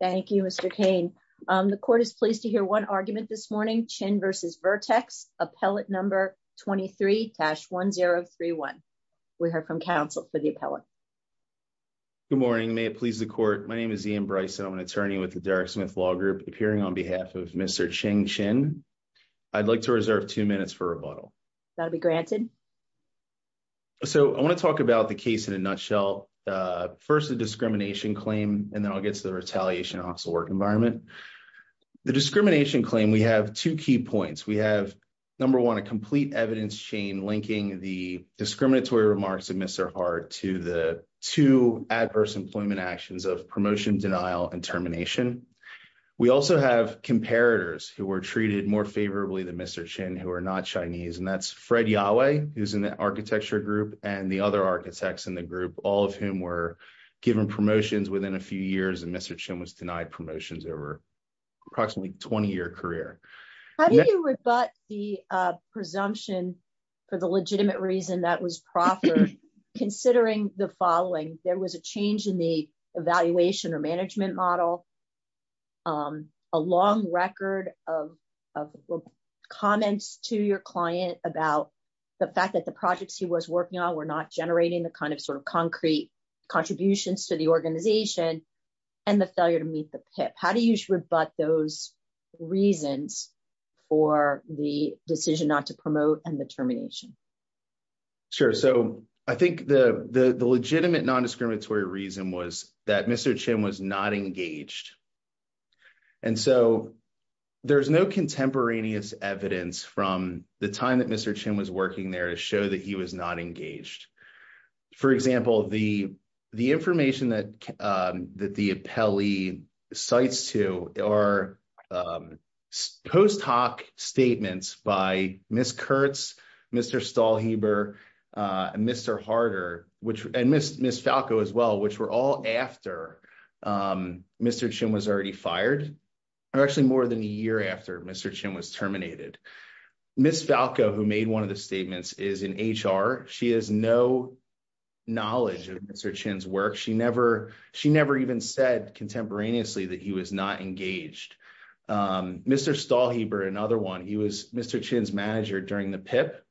Thank you, Mr. Kane. The court is pleased to hear one argument this morning. Chin versus Vertex, appellate number 23-1031. We heard from counsel for the appellate. Good morning. May it please the court. My name is Ian Bryson. I'm an attorney with the Derek Smith Law Group, appearing on behalf of Mr. Ching Chin. I'd like to reserve two minutes for rebuttal. That'll be granted. So I want to talk about the case in a nutshell. First, the discrimination claim, and then I'll get to the retaliation and hostile work environment. The discrimination claim, we have two key points. We have, number one, a complete evidence chain linking the discriminatory remarks of Mr. Hart to the two adverse employment actions of promotion, denial, and termination. We also have comparators who were treated more favorably than Mr. Chin, who are not Chinese, and that's Fred Yahweh, who's in the architecture group, and the other architects in the group, all of whom were given promotions within a few years, and Mr. Chin was denied promotions over approximately a 20-year career. How do you rebut the presumption, for the legitimate reason that was proffered, considering the following? There was a change in the evaluation or management model, a long record of comments to your client about the fact that the projects he was working on were not generating the concrete contributions to the organization and the failure to meet the PIP. How do you rebut those reasons for the decision not to promote and the termination? Sure. So I think the legitimate non-discriminatory reason was that Mr. Chin was not engaged, and so there's no contemporaneous evidence from the time that Mr. Chin was working there to show that he was not engaged. For example, the information that the appellee cites to are post hoc statements by Ms. Kurtz, Mr. Stahlheber, and Mr. Harder, and Ms. Falco as well, which were all after Mr. Chin was already fired, or actually more than a year after Mr. Chin was terminated. Ms. Falco, who made one of the statements, is in HR. She has no knowledge of Mr. Chin's work. She never even said contemporaneously that he was not engaged. Mr. Stahlheber, another one, he was Mr. Chin's manager during the PIP.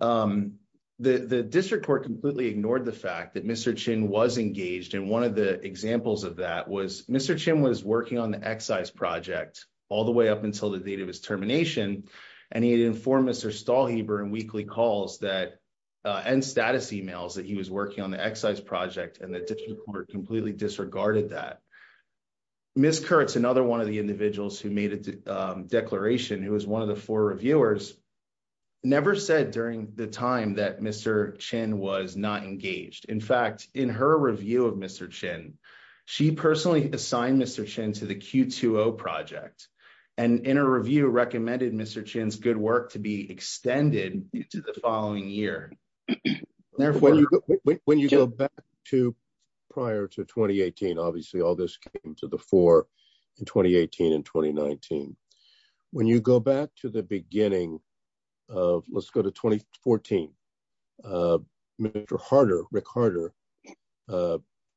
The district court completely ignored the fact that Mr. Chin was engaged, and one of the examples of that was Mr. Chin was working on the excise project all the way up until the date of his termination, and he had informed Mr. Stahlheber in weekly calls and status emails that he was working on the excise project, and the district court completely disregarded that. Ms. Kurtz, another one of the individuals who made a declaration, who was one of the four reviewers, never said during the time that Mr. Chin was not engaged. In fact, in her interview, she recommended Mr. Chin's good work to be extended into the following year. When you go back to prior to 2018, obviously all this came to the fore in 2018 and 2019. When you go back to the beginning of 2014, Rick Harder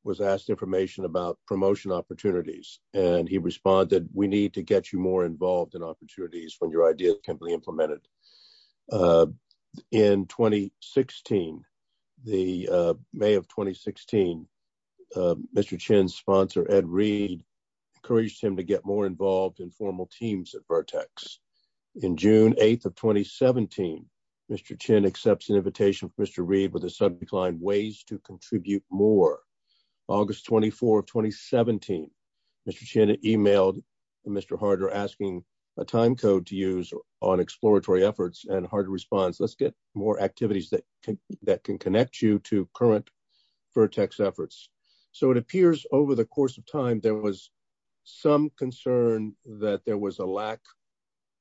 was asked information about promotion opportunities, and he responded, we need to get you more involved in opportunities when your idea can be implemented. In May of 2016, Mr. Chin's sponsor, Ed Reed, encouraged him to get more involved in formal teams at Vertex. In June 8th of 2017, Mr. Chin accepts an invitation from Mr. Harder to recline ways to contribute more. August 24th, 2017, Mr. Chin emailed Mr. Harder asking a time code to use on exploratory efforts, and Harder responds, let's get more activities that can connect you to current Vertex efforts. It appears over the course of time there was some concern that there was a lack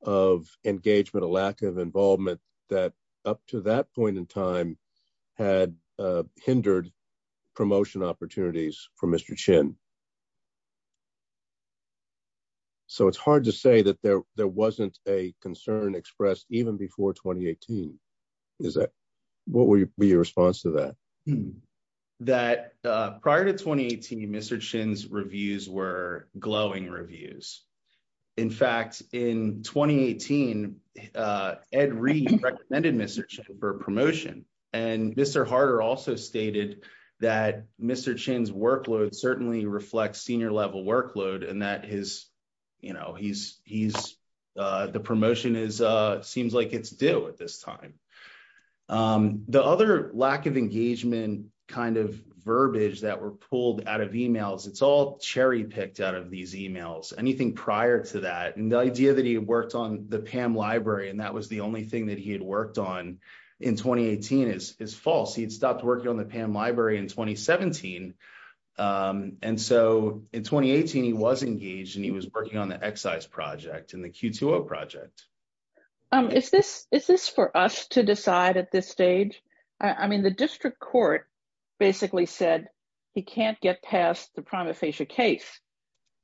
of engagement, a lack of involvement, that up to that point in time hindered promotion opportunities for Mr. Chin. So it's hard to say that there wasn't a concern expressed even before 2018. What would be your response to that? Prior to 2018, Mr. Chin's reviews were glowing reviews. In fact, in 2018, Ed Reed recommended Mr. Chin for promotion, and Mr. Harder also stated that Mr. Chin's workload certainly reflects senior-level workload and that his, you know, he's, the promotion is, seems like it's dill at this time. The other lack of engagement kind of verbiage that were pulled out of emails, it's all picked out of these emails, anything prior to that, and the idea that he worked on the PAM library and that was the only thing that he had worked on in 2018 is false. He stopped working on the PAM library in 2017, and so in 2018 he was engaged and he was working on the excise project and the Q2O project. Is this for us to decide at this stage? I mean, the district court basically said he can't get past the prima facie case,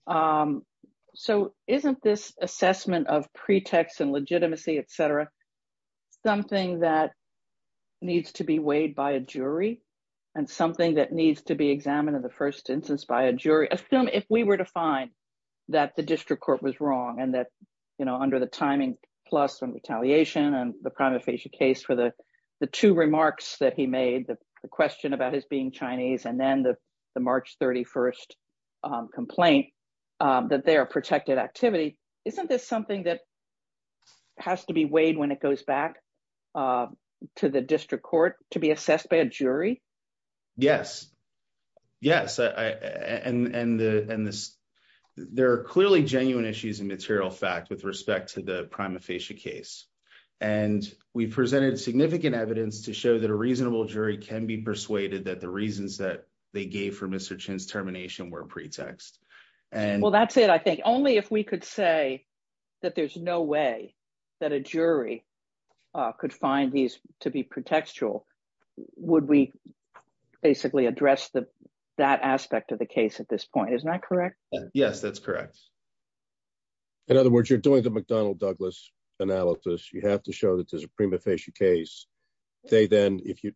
so isn't this assessment of pretext and legitimacy, etc., something that needs to be weighed by a jury and something that needs to be examined in the first instance by a jury? Assume if we were to find that the district court was wrong and that, you know, under the timing plus and retaliation and the prima facie case for the two remarks that he made, the question about his being Chinese and then the March 31st complaint, that they are protected activity, isn't this something that has to be weighed when it goes back to the district court to be assessed by a jury? Yes, yes, and there are clearly genuine issues in material fact with respect to the prima facie case, and we presented significant evidence to show that a reasonable jury can be persuaded that the reasons that they gave for Mr. Chen's termination were pretext. Well, that's it. I think only if we could say that there's no way that a jury could find these to be pretextual would we basically address that aspect of the case at this point, isn't that correct? Yes, that's correct. In other words, you're doing the McDonnell-Douglas analysis. You have to show that there's a prima facie case.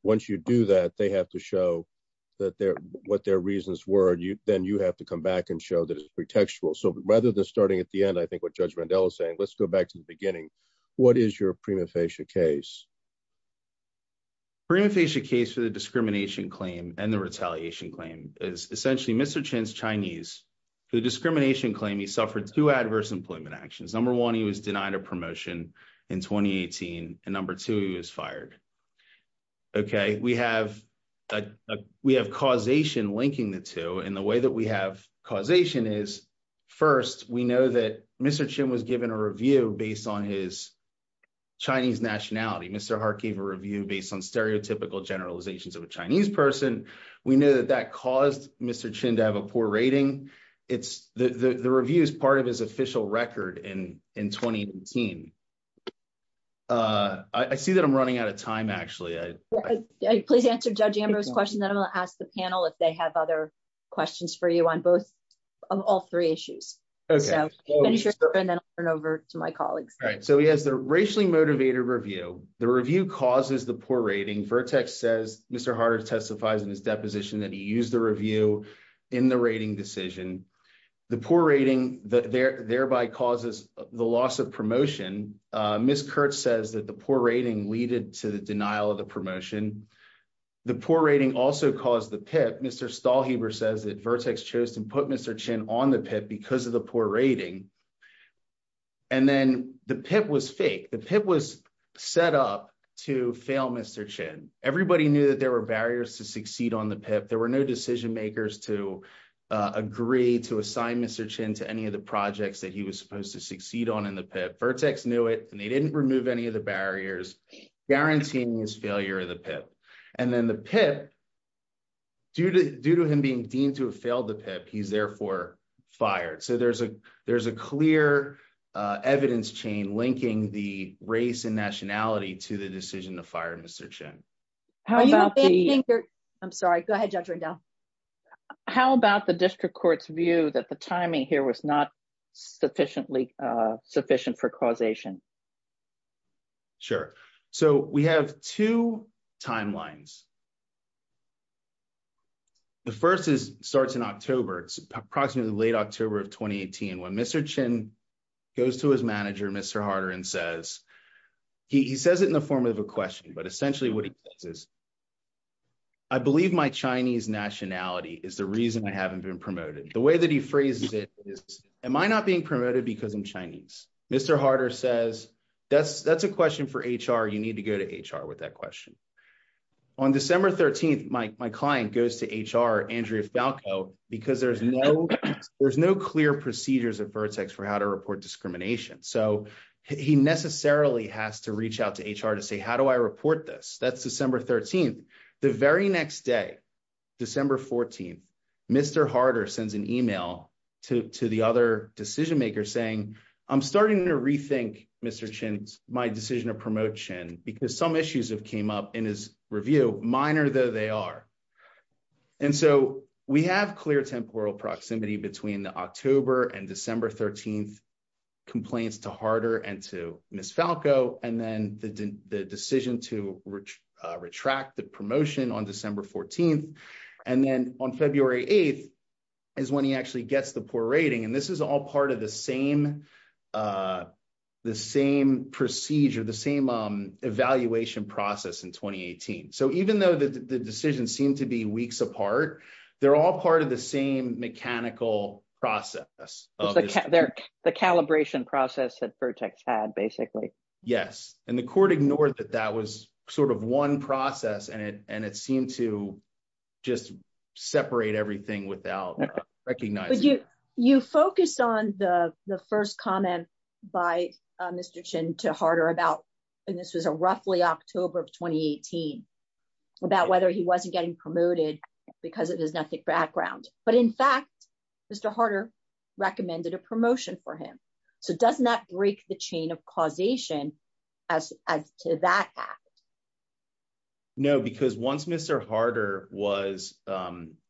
Once you do that, they have to show what their reasons were. Then you have to come back and show that it's pretextual. So rather than starting at the end, I think what Judge Mandela is saying, let's go back to the beginning. What is your prima facie case? Prima facie case for the discrimination claim and the retaliation claim is essentially Mr. Chen's Chinese. For the discrimination claim, he suffered two adverse employment actions. Number one, he was denied a promotion in 2018, and number two, he was fired. Okay, we have causation linking the two, and the way that we have causation is, first, we know that Mr. Chen was given a review based on his Chinese nationality. Mr. Hart gave a review based on stereotypical generalizations of a Chinese person. We know that that caused Mr. Chen to have a poor rating. The review is part of his official record in 2018. I see that I'm running out of time, actually. Please answer Judge Amber's question, then I'll ask the panel if they have other questions for you on all three issues. Okay. And then I'll turn it over to my colleagues. All right, so he has the racially motivated review. The review causes the poor rating. Vertex says Mr. Hart has testified in his deposition that he used the review in the rating decision. The poor rating thereby causes the loss of promotion. Ms. Kurtz says that the poor rating leaded to the denial of the promotion. The poor rating also caused the PIP. Mr. Stahlheber says that Vertex chose to put Mr. Chen on the PIP because of the poor rating, and then the PIP was fake. The PIP was that there were barriers to succeed on the PIP. There were no decision makers to agree to assign Mr. Chen to any of the projects that he was supposed to succeed on in the PIP. Vertex knew it, and they didn't remove any of the barriers, guaranteeing his failure of the PIP. And then the PIP, due to him being deemed to have failed the PIP, he's therefore fired. So there's a clear evidence chain linking the race and nationality to the decision to fire Mr. Chen. I'm sorry. Go ahead, Judge Rendell. How about the district court's view that the timing here was not sufficiently sufficient for causation? Sure. So we have two timelines. The first starts in October. It's approximately late October of 2018 when Mr. Chen goes to his office. I believe my Chinese nationality is the reason I haven't been promoted. The way that he phrases it is, am I not being promoted because I'm Chinese? Mr. Harder says, that's a question for HR. You need to go to HR with that question. On December 13th, my client goes to HR, Andrea Falco, because there's no clear procedures at Vertex for how to report discrimination. So he necessarily has to reach out to HR to say, how do I report this? That's December 13th. The very next day, December 14th, Mr. Harder sends an email to the other decision maker saying, I'm starting to rethink, Mr. Chen, my decision to promote Chen, because some issues have came up in his review, minor though they are. And so we have clear temporal proximity between the October and Harder and to Ms. Falco, and then the decision to retract the promotion on December 14th. And then on February 8th is when he actually gets the poor rating. And this is all part of the same procedure, the same evaluation process in 2018. So even though the decisions seem to be weeks apart, they're all part of the same mechanical process. The calibration process at Vertex had basically. Yes. And the court ignored that that was sort of one process and it seemed to just separate everything without recognizing. You focused on the first comment by Mr. Chen to Harder about, and this was a roughly October of 2018, about whether he wasn't getting promoted because of his ethnic background. But in fact, Mr. Harder recommended a promotion for him. So doesn't that break the chain of causation as to that act? No, because once Mr. Harder was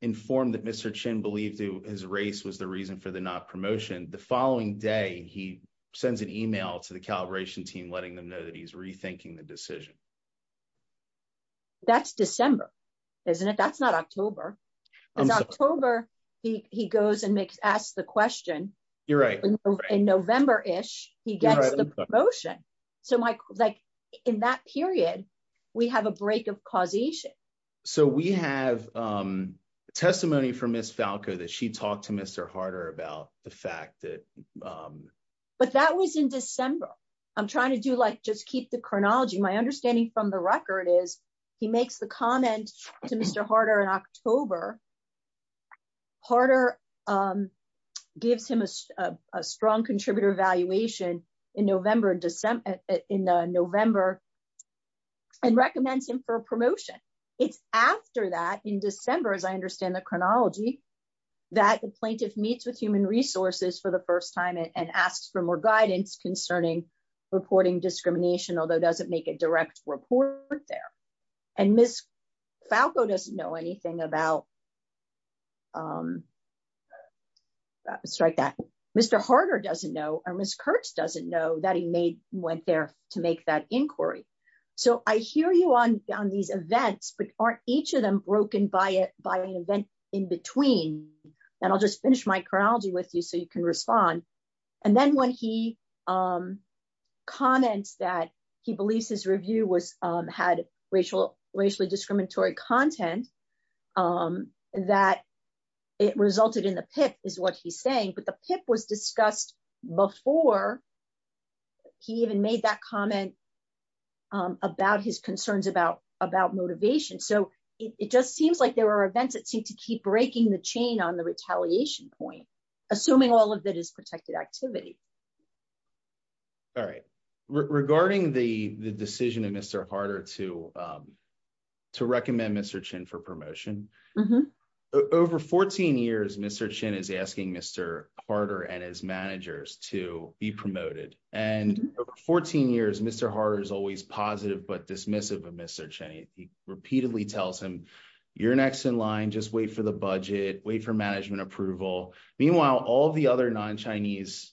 informed that Mr. Chen believed his race was the reason for the not promotion, the following day, he sends an email to the calibration team, letting them know that he's rethinking the decision. That's December, isn't it? That's not October. In October, he goes and asks the question. You're right. In November-ish, he gets the promotion. So in that period, we have a break of causation. So we have testimony from Ms. Falco that she talked to Mr. Harder about the fact that. But that was in December. I'm trying to just keep the chronology. My understanding from the record is he makes the comment to Mr. Harder in October. Harder gives him a strong contributor evaluation in November and recommends him for a promotion. It's after that, in December, as I understand the chronology, that the plaintiff meets with Human Resources for the first time and asks for more guidance concerning reporting discrimination, although doesn't make a direct report there. And Ms. Falco doesn't know anything about. Mr. Harder doesn't know or Ms. Kurtz doesn't know that he went there to make that inquiry. So I hear you on these events, but aren't each of them broken by an event in between? And I'll just finish my chronology with you so you can respond. And then when he comments that he believes his review had racially discriminatory content, that it resulted in the PIP is what he's saying. But the PIP was discussed before he even made that comment about his concerns about motivation. So it just seems like there are events that seem to keep breaking the chain on the retaliation point, assuming all of it is protected activity. All right. Regarding the decision of Mr. Harder to recommend Mr. Chin for promotion, over 14 years, Mr. Chin is asking Mr. Harder and his managers to be promoted. And for 14 years, Mr. Harder is always positive but dismissive of Mr. Chin. He repeatedly tells him, you're next in line, just wait for the budget, wait for management approval. Meanwhile, all the other non-Chinese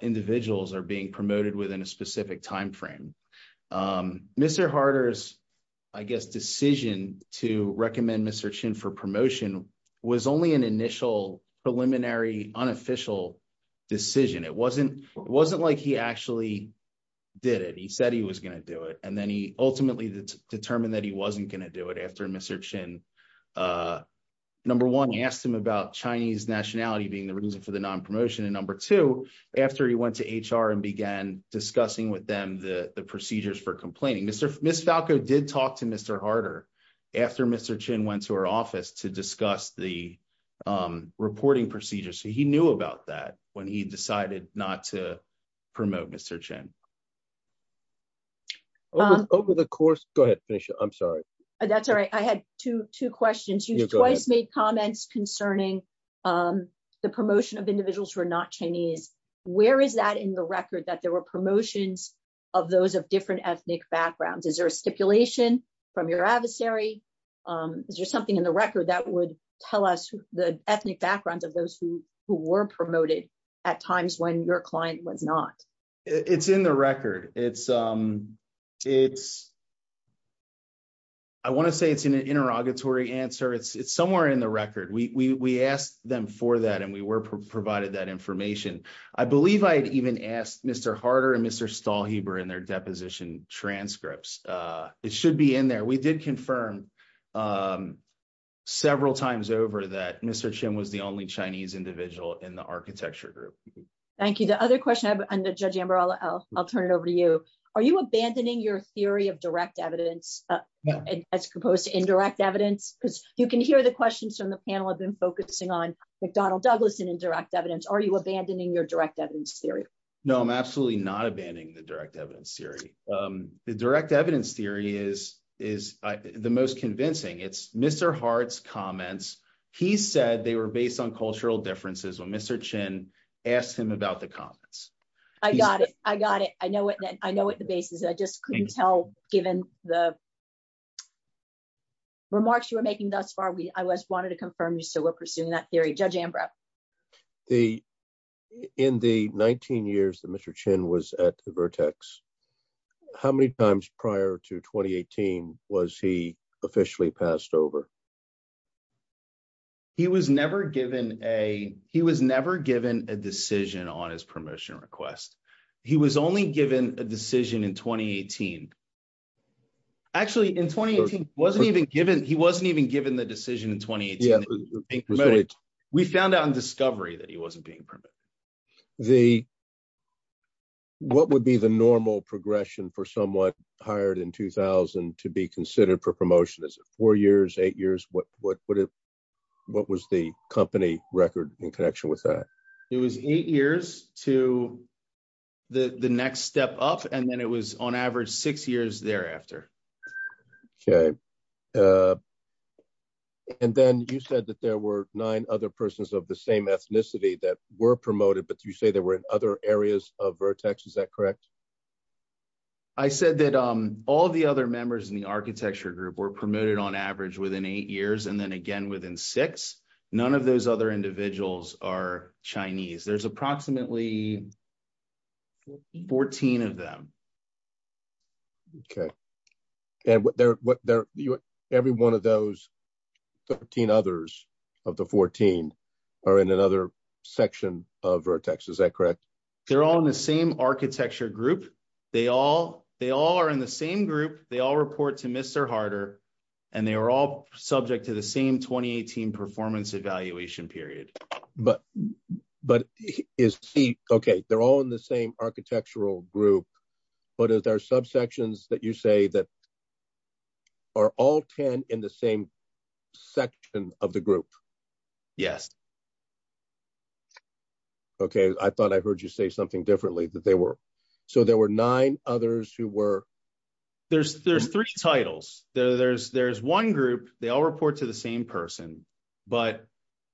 individuals are being promoted within a specific timeframe. Mr. Harder's, I guess, decision to recommend Mr. Chin for promotion was only an it wasn't like he actually did it. He said he was going to do it. And then he ultimately determined that he wasn't going to do it after Mr. Chin, number one, he asked him about Chinese nationality being the reason for the non-promotion. And number two, after he went to HR and began discussing with them the procedures for complaining. Ms. Falco did talk to Mr. Harder after Mr. Chin went to her office to discuss the reporting procedures. So he knew about that when he decided not to promote Mr. Chin. Over the course, go ahead, Fisher, I'm sorry. That's all right. I had two questions. You've twice made comments concerning the promotion of individuals who are not Chinese. Where is that in the record that there were promotions of those of different ethnic backgrounds? Is there a speculation from your adversary? Is there something in the record that would tell us the ethnic backgrounds of those who were promoted at times when your client was not? It's in the record. I want to say it's an interrogatory answer. It's somewhere in the record. We asked them for that and we were provided that information. I believe I had even asked Mr. Harder and Mr. Stahlheber in their deposition transcripts. It should be in there. We did confirm several times over that Mr. Chin was a Chinese individual in the architecture group. Thank you. Are you abandoning your theory of direct evidence as opposed to indirect evidence? You can hear the questions from the panel have been focusing on McDonald-Douglas and indirect evidence. Are you abandoning your direct evidence theory? No, I'm absolutely not abandoning the direct evidence theory. The direct evidence theory is the most convincing. It's Mr. Hard's comments. He said they were based on cultural differences. Mr. Chin asked him about the comments. I got it. I know what the base is. I just couldn't tell given the remarks you were making thus far. I just wanted to confirm so we're pursuing that theory. Judge Ambrose. In the 19 years that Mr. Chin was at Vertex, how many times prior to 2018 was he officially passed over? He was never given a decision on his permission request. He was only given a decision in 2018. Actually, he wasn't even given the decision in 2018. We found out in discovery that he wasn't the normal progression for someone hired in 2000 to be considered for promotion. It's four years, eight years. What was the company record in connection with that? It was eight years to the next step up. Then it was on average six years thereafter. Then you said that there were nine other persons of the same ethnicity that were promoted, but you say there were other areas of Vertex. Is that correct? I said that all the other members in the architecture group were promoted on average within eight years and then again within six. None of those other individuals are Chinese. There's approximately 14 of them. Okay. Every one of those 14 others of the 14 are in another section of Vertex. Is that correct? They're all in the same architecture group. They all report to Mr. Harder, and they were all subject to the same 2018 performance evaluation period. They're all in the same architectural group, but are there subsections that you say that are all 10 in the same section of the group? Yes. Okay. I thought I heard you say something differently, but they were. There were nine others who were- There's three titles. There's one group, they all report to the same person, but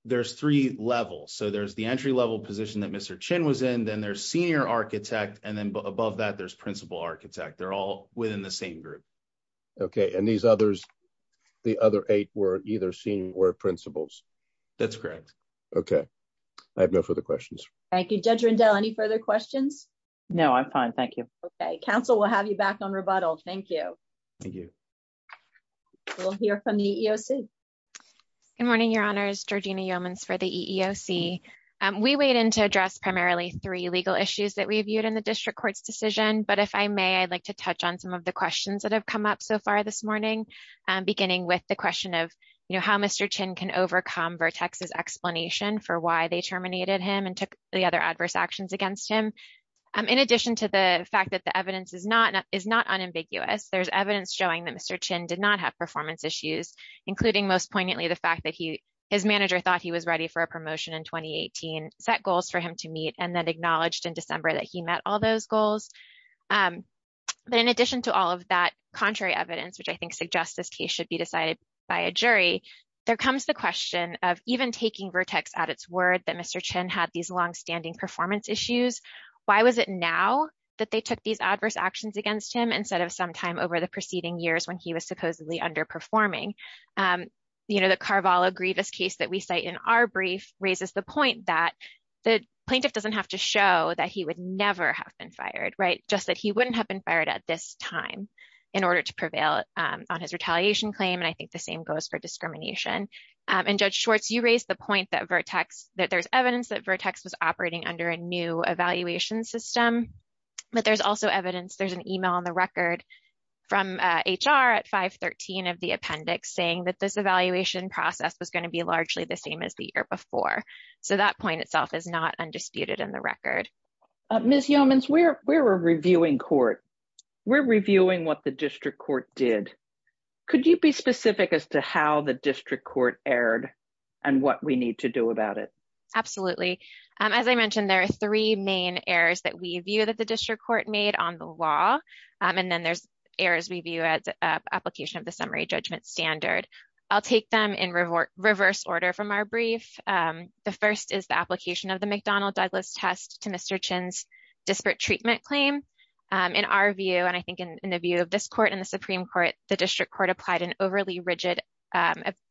there's three levels. There's the entry level position that Mr. Chin was in, then there's senior architect, and then above that, there's principal architect. They're all within the same group. Okay. These others, the other eight were either senior or principals. That's correct. Okay. I have no further questions. Thank you. Judge Rendell, any further questions? No, I'm fine. Thank you. Okay. Counsel will have you back on rebuttal. Thank you. Thank you. We'll hear from the EEOC. Good morning, your honors. Georgina Yeomans for the EEOC. We weighed in to address primarily three legal issues that we viewed in the district court's decision, but if I may, I'd like to touch on some of the questions that have come up so far this morning, beginning with the question of how Mr. Chin can overcome Vertex's explanation for why they terminated him and took the other adverse actions against him. In addition to the fact that the evidence is not unambiguous, there's evidence showing that Mr. Chin did not have performance issues, including most poignantly the fact that his manager thought he was ready for a promotion in 2018, set goals for him to meet, and then acknowledged in December that he met all those goals. But in addition to all of that contrary evidence, which I think suggests this case should be decided by a jury, there comes the question of even taking Vertex at its word that Mr. Chin had these longstanding performance issues, why was it now that they took these adverse actions against him instead of sometime over the preceding years when he was supposedly underperforming? The Carvalho Grievous case that we cite in our brief raises the point that the plaintiff doesn't have to show that he would never have been fired, just that he wouldn't have been fired at this time in order to prevail on his retaliation claim, and I think the same goes for discrimination. And Judge Schwartz, you raised the point that there's evidence that Vertex was operating under a new evaluation system, but there's also evidence, there's an 113 of the appendix saying that this evaluation process is going to be largely the same as the year before. So that point itself is not undisputed in the record. Ms. Yeomans, we're a reviewing court, we're reviewing what the district court did. Could you be specific as to how the district court erred and what we need to do about it? Absolutely. As I mentioned, there are three main errors that we view that the district court made on the law, and then there's errors we view at the application of the summary judgment standard. I'll take them in reverse order from our brief. The first is the application of the McDonnell-Douglas test to Mr. Chin's disparate treatment claim. In our view, and I think in the view of this court and the Supreme Court, the district court applied an overly rigid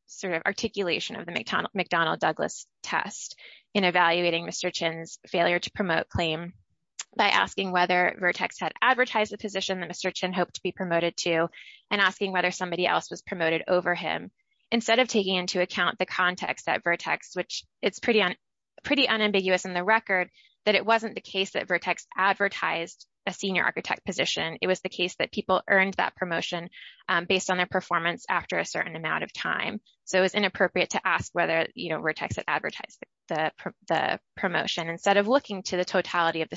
sort of articulation of the McDonnell-Douglas test in evaluating Mr. Chin's failure to promote claim by asking whether Vertex had advertised the promoted to and asking whether somebody else was promoted over him. Instead of taking into account the context that Vertex, which is pretty unambiguous in the record, that it wasn't the case that Vertex advertised a senior architect position. It was the case that people earned that promotion based on their performance after a certain amount of time. So it's inappropriate to ask whether Vertex had advertised the promotion. Instead of looking to the totality of the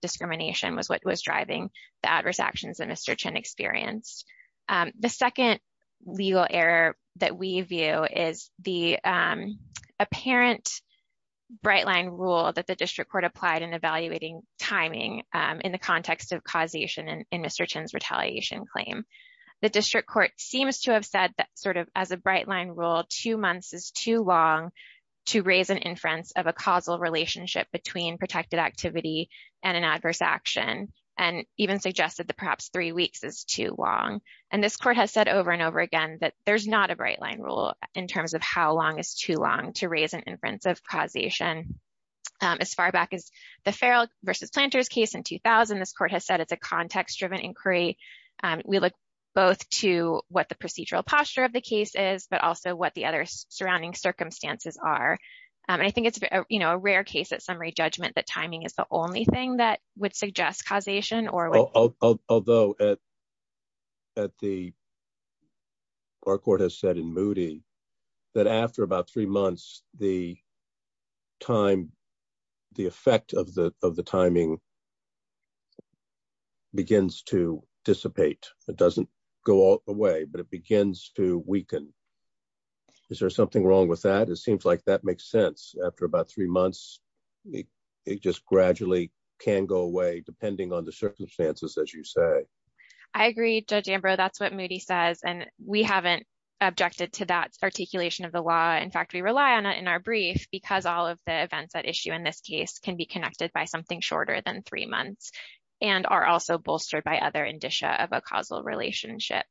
discrimination was what was driving the adverse actions that Mr. Chin experienced. The second legal error that we view is the apparent bright line rule that the district court applied in evaluating timing in the context of causation in Mr. Chin's retaliation claim. The district court seems to have said that sort of as a bright line rule, two months is too long to raise an inference of a causal relationship between protected activity and an adverse action and even suggested that perhaps three weeks is too long. And this court has said over and over again that there's not a bright line rule in terms of how long is too long to raise an inference of causation. As far back as the Farrell versus Planters case in 2000, this court has said it's a context-driven inquiry. We look both to what the procedural posture of the case is, but also what the other rare cases summary judgment that timing is the only thing that would suggest causation. Although our court has said in Moody that after about three months, the time, the effect of the timing begins to dissipate. It doesn't go away, but it begins to weaken. Is there something wrong with that? It seems like that makes sense. After about three months, it just gradually can go away depending on the circumstances that you say. I agree, Judge Ambrose. That's what Moody says. And we haven't objected to that articulation of the law. In fact, we rely on it in our brief because all of the events that issue in this case can be connected by something shorter than three months and are also bolstered by other of a causal relationship.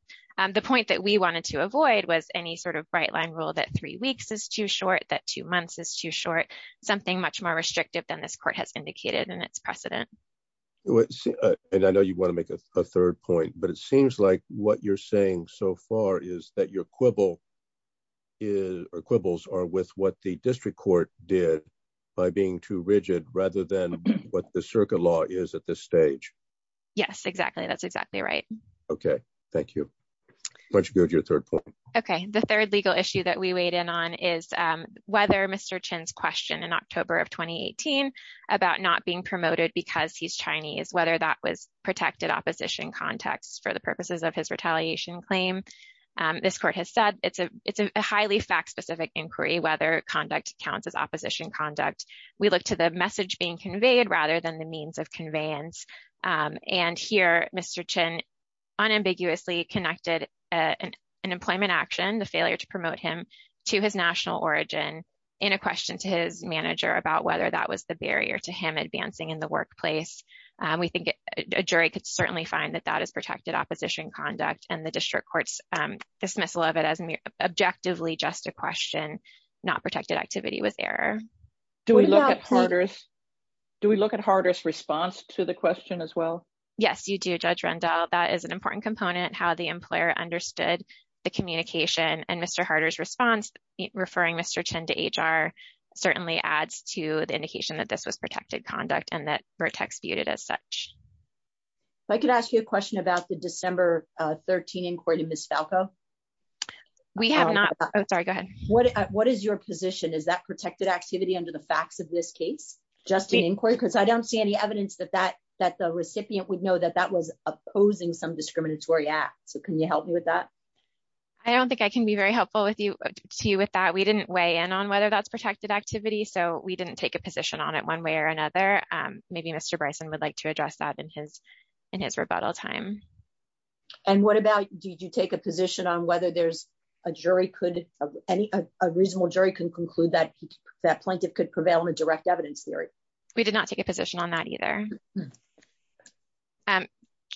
The point that we wanted to avoid was any sort of right-line rule that three weeks is too short, that two months is too short, something much more restricted than this court has indicated in its precedent. I know you want to make a third point, but it seems like what you're saying so far is that your quibbles are with what the district court did by being too rigid rather than what the circuit law is at this stage. Yes, exactly. That's exactly right. Okay. Thank you. Judge Beard, your third point. Okay. The third legal issue that we weighed in on is whether Mr. Chin's question in October of 2018 about not being promoted because he's Chinese, whether that was protected opposition context for the purposes of his retaliation claim. This court has said it's a highly fact-specific inquiry whether conduct counts as opposition conduct. We look to the message being conveyed rather than the conveyance. Here, Mr. Chin unambiguously connected an employment action, the failure to promote him to his national origin in a question to his manager about whether that was the barrier to him advancing in the workplace. We think a jury could certainly find that that is protected opposition conduct and the district court's dismissal of it as objectively just a question, not protected activity with error. Do we look at Harder's response to the question as well? Yes, you do, Judge Rendell. That is an important component, how the employer understood the communication and Mr. Harder's response, referring Mr. Chin to HR, certainly adds to the indication that this was protected conduct and that we're executed as such. I could ask you a question about the December 13 inquiry to Ms. Falco. We have not. Oh, sorry, go ahead. What is your position? Is that protected activity under the facts of this case, just the inquiry? Because I don't see any evidence that the recipient would know that that was opposing some discriminatory act. Can you help me with that? I don't think I can be very helpful to you with that. We didn't weigh in on whether that's protected activity, so we didn't take a position on it one way or another. Maybe Mr. Bryson would like to address that in his rebuttal time. What about, did you take a position on whether a reasonable jury can conclude that that plaintiff could prevail on a direct evidence theory? We did not take a position on that either.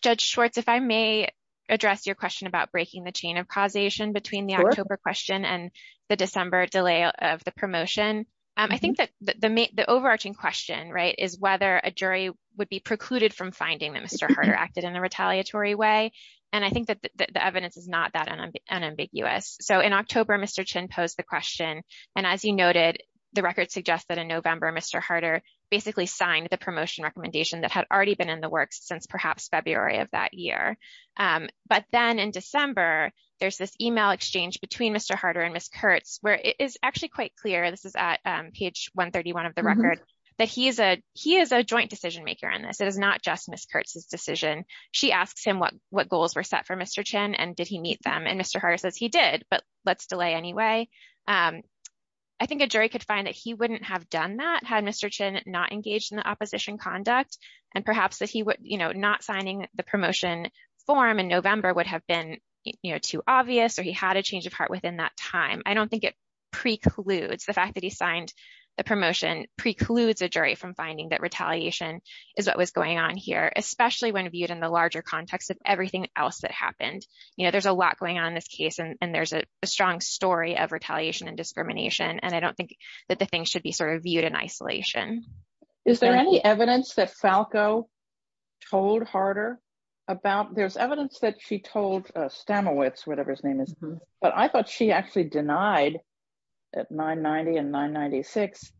Judge Schwartz, if I may address your question about breaking the chain of causation between the October question and the December delay of the promotion. I think the overarching question is whether a jury would be precluded from finding that Mr. Harder acted in a retaliatory way. I think that the evidence is not that unambiguous. In October, Mr. Chin posed the question. As you noted, the record suggests that in November, Mr. Harder basically signed the promotion recommendation that had already been in the works since perhaps February of that year. But then in December, there's this email exchange between Mr. Harder and Ms. Kurtz, it's actually quite clear, this is at page 131 of the record, that he is a joint decision-maker on this. It is not just Ms. Kurtz's decision. She asked him what goals were set for Mr. Chin and did he meet them, and Mr. Harder says he did, but let's delay anyway. I think a jury could find that he wouldn't have done that had Mr. Chin not engaged in the opposition conduct, and perhaps that not signing the promotion form in November would have been too obvious, or he had a change within that time. I don't think it precludes, the fact that he signed the promotion precludes the jury from finding that retaliation is what was going on here, especially when viewed in the larger context of everything else that happened. You know, there's a lot going on in this case, and there's a strong story of retaliation and discrimination, and I don't think that the thing should be sort of viewed in isolation. Is there any evidence that Falco told Harder about, there's evidence that she told Stamowitz, whatever his name is, but I thought she actually denied at 990 and 996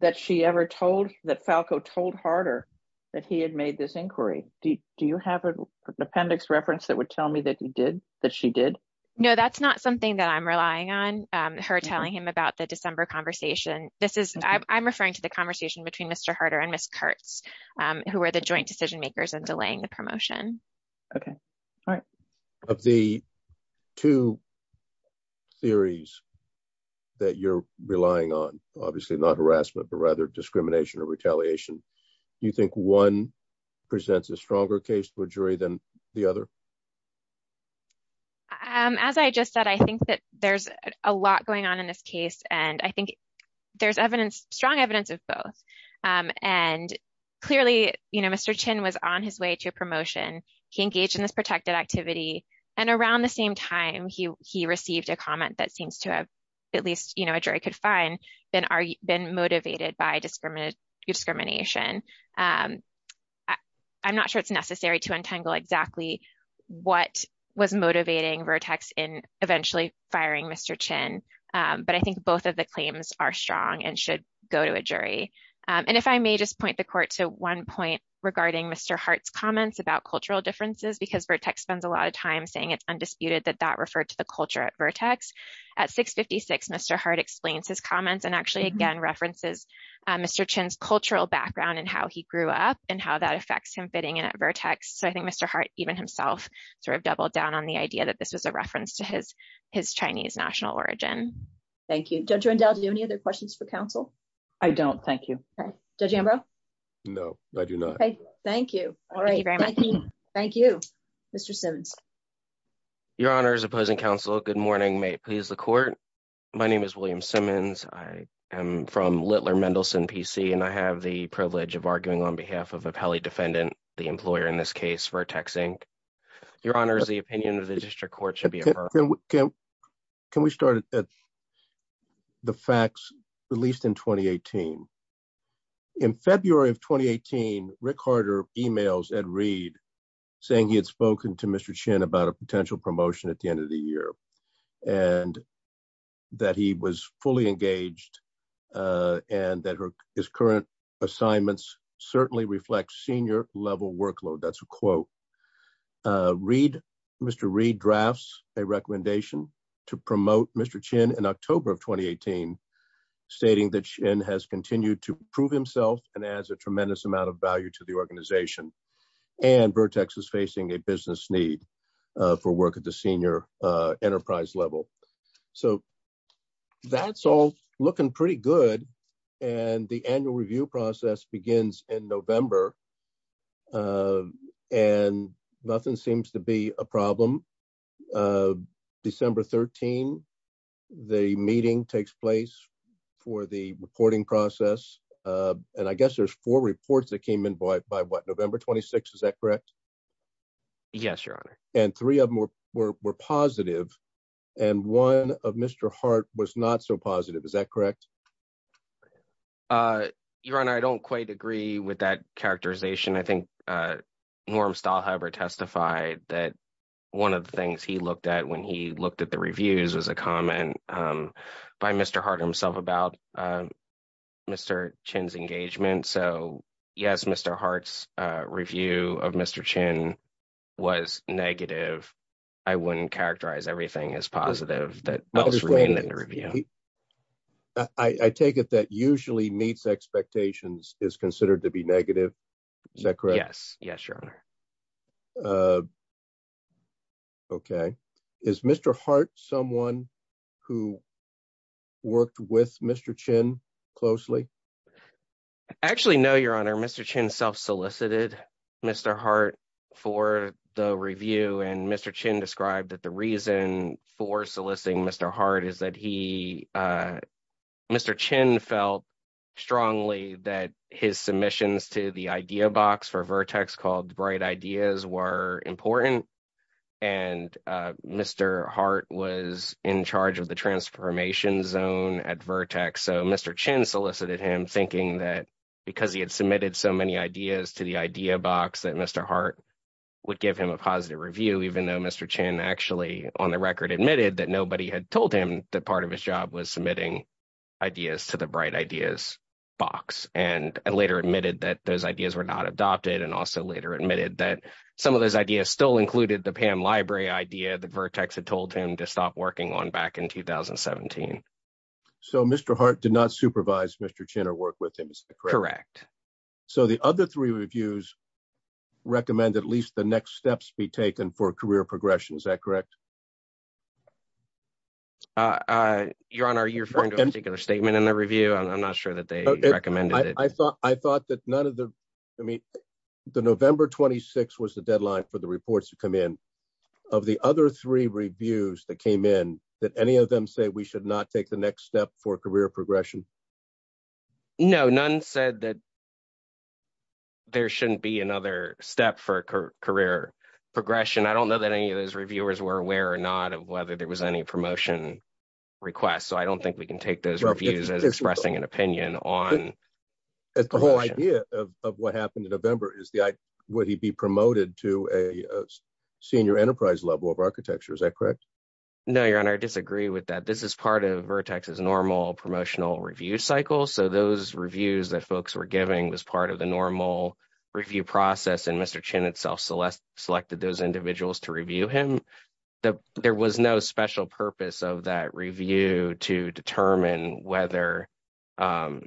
that she ever told, that Falco told Harder that he had made this inquiry. Do you have an appendix reference that would tell me that he did, that she did? No, that's not something that I'm relying on, her telling him about the December conversation. This is, I'm referring to the conversation between Mr. Harder and Ms. Kurtz, who were the joint decision makers in delaying the promotion. Okay, all right. Of the two theories that you're relying on, obviously not harassment, but rather discrimination or retaliation, do you think one presents a stronger case for jury than the other? As I just said, I think that there's a lot going on in this case, and I think there's evidence, strong evidence of both. Clearly, Mr. Chin was on his way to promotion. He engaged in this protected activity, and around the same time, he received a comment that seems to have, at least a jury could find, been motivated by discrimination. I'm not sure it's necessary to untangle exactly what was motivating Vertex in eventually firing Mr. Chin, but I think both of are strong and should go to a jury. If I may just point the court to one point regarding Mr. Hart's comments about cultural differences, because Vertex spends a lot of time saying it's undisputed that that referred to the culture at Vertex. At 6.56, Mr. Hart explains his comments and actually, again, references Mr. Chin's cultural background and how he grew up and how that affects him fitting in at Vertex. I think Mr. Hart, even himself, doubled down on the idea that this is a reference to his Chinese national origin. Thank you. Judge Rendell, do you have any other questions for counsel? I don't. Thank you. Judge Ambrose? No, I do not. Thank you. All right. Thank you, Mr. Simmons. Your Honor, as opposing counsel, good morning. May it please the court. My name is William Simmons. I am from Littler Mendelsohn PC, and I have the privilege of arguing on behalf of a pele defendant, the employer in this case, Vertex Inc. Your Honor, the opinion of the district court should be heard. Can we start at the facts released in 2018? In February of 2018, Rick Harder emails Ed Reed saying he had spoken to Mr. Chin about a potential promotion at the end of the year and that he was fully engaged and that his current assignments certainly reflect senior level workload. That's a quote. Mr. Reed drafts a recommendation to promote Mr. Chin in October of 2018, stating that Chin has continued to improve himself and adds a tremendous amount of value to the organization, and Vertex is facing a business need for work at the senior enterprise level. So that's all looking pretty good, and the annual review process begins in November, and nothing seems to be a problem. December 13, the meeting takes place for the reporting process, and I guess there's four reports that came in by what, November 26? Is that correct? Yes, Your Honor. And three of them were positive, and one of Mr. Hart was not so positive. Is that correct? Your Honor, I don't quite agree with that characterization. I think Norm Stahl, however, testified that one of the things he looked at when he looked at the reviews was a comment by Mr. Hart himself about Mr. Chin's characterizing everything as positive. I take it that usually meets expectations is considered to be negative. Is that correct? Yes, Your Honor. Okay. Is Mr. Hart someone who worked with Mr. Chin closely? Actually, no, Your Honor. Mr. Chin solicited Mr. Hart for the review, and Mr. Chin described that the reason for soliciting Mr. Hart is that he, Mr. Chin felt strongly that his submissions to the idea box for Vertex called Bright Ideas were important, and Mr. Hart was in charge of the transformation zone at Vertex, so Mr. Chin solicited him, thinking that because he had submitted so many ideas to the idea box that Mr. Hart would give him a positive review, even though Mr. Chin actually, on the record, admitted that nobody had told him that part of his job was submitting ideas to the Bright Ideas box, and later admitted that those ideas were not adopted, and also later admitted that some of those ideas still included the PAM library idea that Vertex had told him to stop working on in 2017. So Mr. Hart did not supervise Mr. Chin or work with him, is that correct? Correct. So the other three reviews recommend at least the next steps be taken for career progression, is that correct? Your Honor, are you referring to a particular statement in the review? I'm not sure that they recommended it. I thought that none of the, I mean, the November 26th was the deadline for the reports to come in. Of the other three reviews that came in, did any of them say we should not take the next step for career progression? No, none said that there shouldn't be another step for career progression. I don't know that any of those reviewers were aware or not of whether there was any promotion request, so I don't think we can take those reviews as expressing an opinion on... The whole idea of what happened in November is would he be promoted to a senior enterprise level of architecture, is that correct? No, Your Honor, I disagree with that. This is part of Vertex's normal promotional review cycle, so those reviews that folks were giving was part of the normal review process, and Mr. Chin himself selected those individuals to review him. There was no special purpose of that review to determine whether Mr.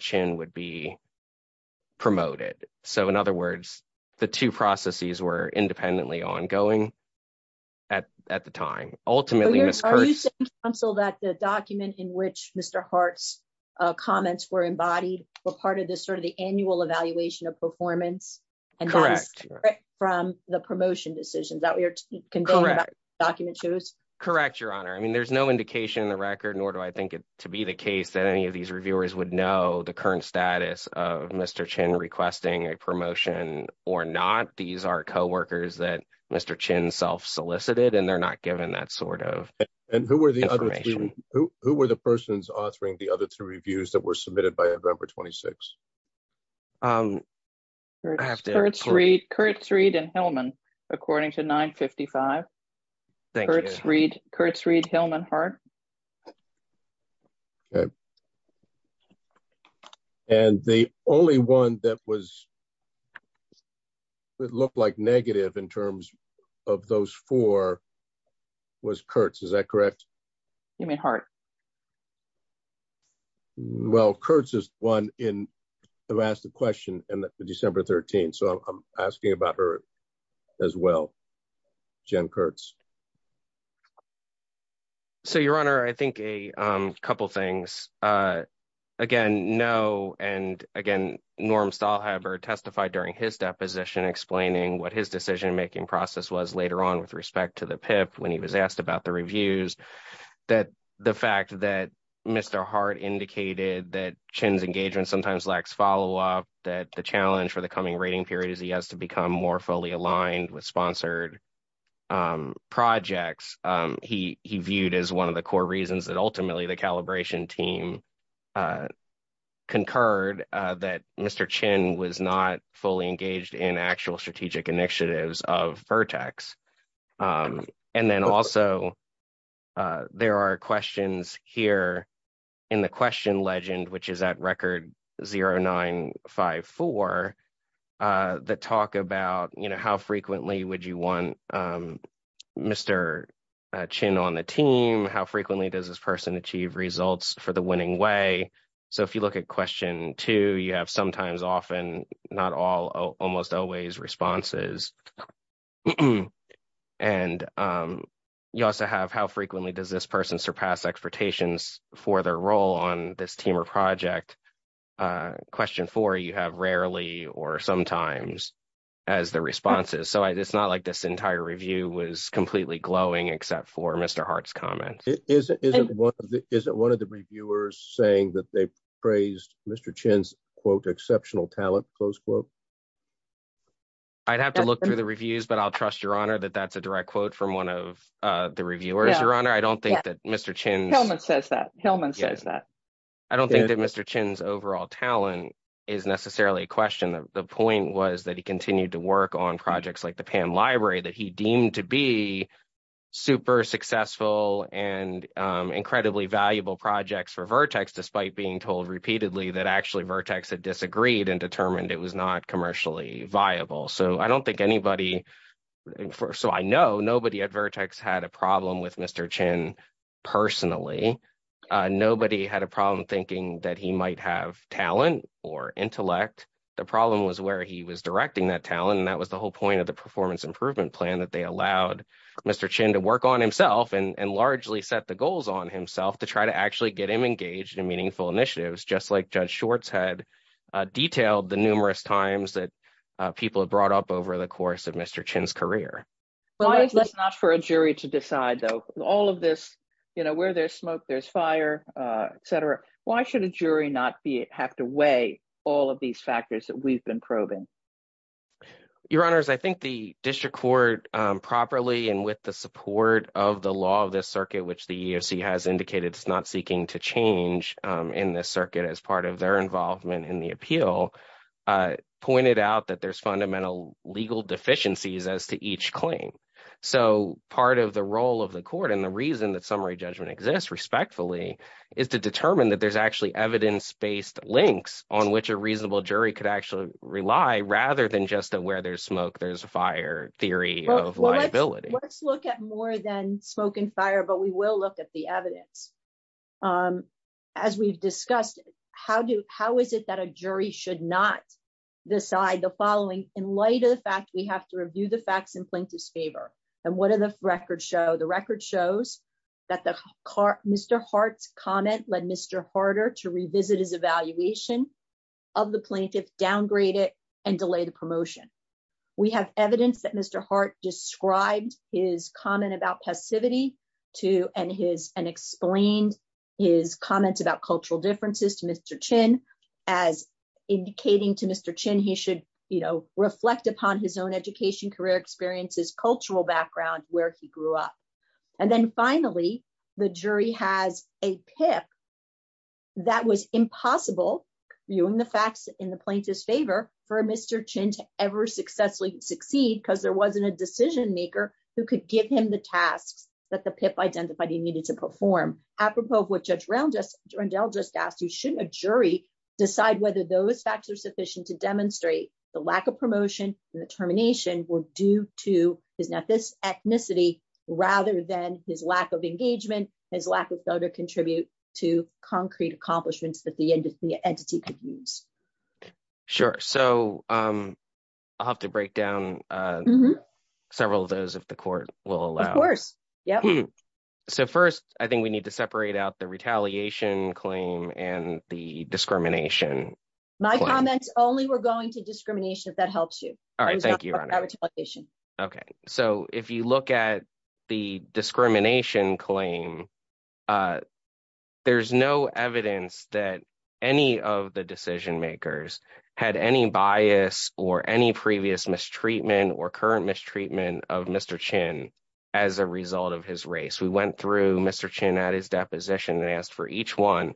Chin would be promoted. So, in other words, the two processes were independently ongoing at the time. Ultimately... Are you saying, counsel, that the document in which Mr. Hart's comments were embodied were part of this sort of the annual evaluation of performance? Correct. And that was promotion decisions that we are concerned about? Correct, Your Honor. I mean, there's no indication in the record, nor do I think it to be the case that any of these reviewers would know the current status of Mr. Chin requesting a promotion or not. These are co-workers that Mr. Chin self-solicited, and they're not given that sort of information. And who were the other two? Who were the persons authoring the other two reviews that were submitted by November 26th? Kurtz, Reed, and Hillman, according to 955. Kurtz, Reed, Hillman, Hart. And the only one that looked like negative in terms of those four was Kurtz. Is that correct? You mean Hart? Well, Kurtz is the one who asked the question on December 13th. So, I'm asking about her as well, Jen Kurtz. So, Your Honor, I think a couple things. Again, no, and again, Norm Stahlheber testified during his deposition explaining what his decision-making process was later on with the PIP when he was asked about the reviews. The fact that Mr. Hart indicated that Chin's engagement sometimes lacks follow-up, that the challenge for the coming rating period is he has to become more fully aligned with sponsored projects. He viewed as one of the core reasons that ultimately the calibration team concurred that Mr. Chin was not fully engaged in actual strategic initiatives of Vertex. And then also, there are questions here in the question legend, which is at record 0954, that talk about how frequently would you want Mr. Chin on the team? How frequently does this person achieve results for the winning way? So, if you look at question two, you have sometimes, often, not all, almost always responses. And you also have how frequently does this person surpass expectations for their role on this team or project? Question four, you have rarely or sometimes as the responses. So, it's not like this entire review was completely glowing except for Mr. Hart's comments. Isn't one of the reviewers saying that they praised Mr. Chin's, quote, exceptional talent, close quote? I'd have to look through the reviews, but I'll trust your honor that that's a direct quote from one of the reviewers. Your honor, I don't think that Mr. Chin. Hillman says that. Hillman says that. I don't think that Mr. Chin's overall talent is necessarily a question. The point was that he continued to work on projects like the Pan Library that he deemed to be super successful and incredibly valuable projects for Vertex, despite being told repeatedly that actually Vertex had disagreed and determined it was not commercially viable. So, I don't think anybody, so I know nobody at Vertex had a problem with Mr. Chin personally. Nobody had a problem thinking that he might have talent or intellect. The problem was where he was directing that talent, and that was the whole point of the performance improvement plan, that they allowed Mr. Chin to largely set the goals on himself to try to actually get him engaged in meaningful initiatives, just like Judge Schwartz had detailed the numerous times that people have brought up over the course of Mr. Chin's career. Why is that not for a jury to decide, though? All of this, you know, where there's smoke, there's fire, etc. Why should a jury not have to weigh all of these factors that we've been probing? Your honors, I think the district court properly and with the support of the law of this circuit, which the EEOC has indicated it's not seeking to change in this circuit as part of their involvement in the appeal, pointed out that there's fundamental legal deficiencies as to each claim. So, part of the role of the court and the reason that summary judgment exists respectfully is to determine that there's actually evidence-based links on which a reasonable jury could actually rely, rather than just that where there's smoke, there's fire theory of liability. Let's look at more than smoke and fire, but we will look at the evidence. As we've discussed, how is it that a jury should not decide the following in light of the fact we have to review the facts in plaintiff's favor? And what does the record show? The record shows that Mr. Hart's comment led Mr. Harter to revisit his evaluation of the plaintiff, downgrade it, and delay the promotion. We have evidence that Mr. Hart described his comment about passivity and explained his comments about cultural differences to Mr. Chin as indicating to Mr. Chin he should reflect upon his own education, career experiences, cultural background, where he grew up. And then finally, the jury has a pick that was impossible, viewing the facts in the plaintiff's favor, for Mr. Chin to ever successfully succeed because there wasn't a decision maker who could give him the task that the PIP identified he needed to perform. Apropos of what Judge Rondell just asked, you shouldn't a jury decide whether those facts are sufficient to demonstrate the lack of promotion and the termination were due to his ethnicity rather than his lack of engagement, his lack to contribute to concrete accomplishments that the entity could use. Sure. So I'll have to break down several of those if the court will allow it. Of course. Yep. So first, I think we need to separate out the retaliation claim and the discrimination. My comment, only we're going to discrimination if that helps you. All right. Thank you. Okay. So if you look at the discrimination claim, there's no evidence that any of the decision makers had any bias or any previous mistreatment or current mistreatment of Mr. Chin as a result of his race. We went through Mr. Chin at his deposition and asked for each one.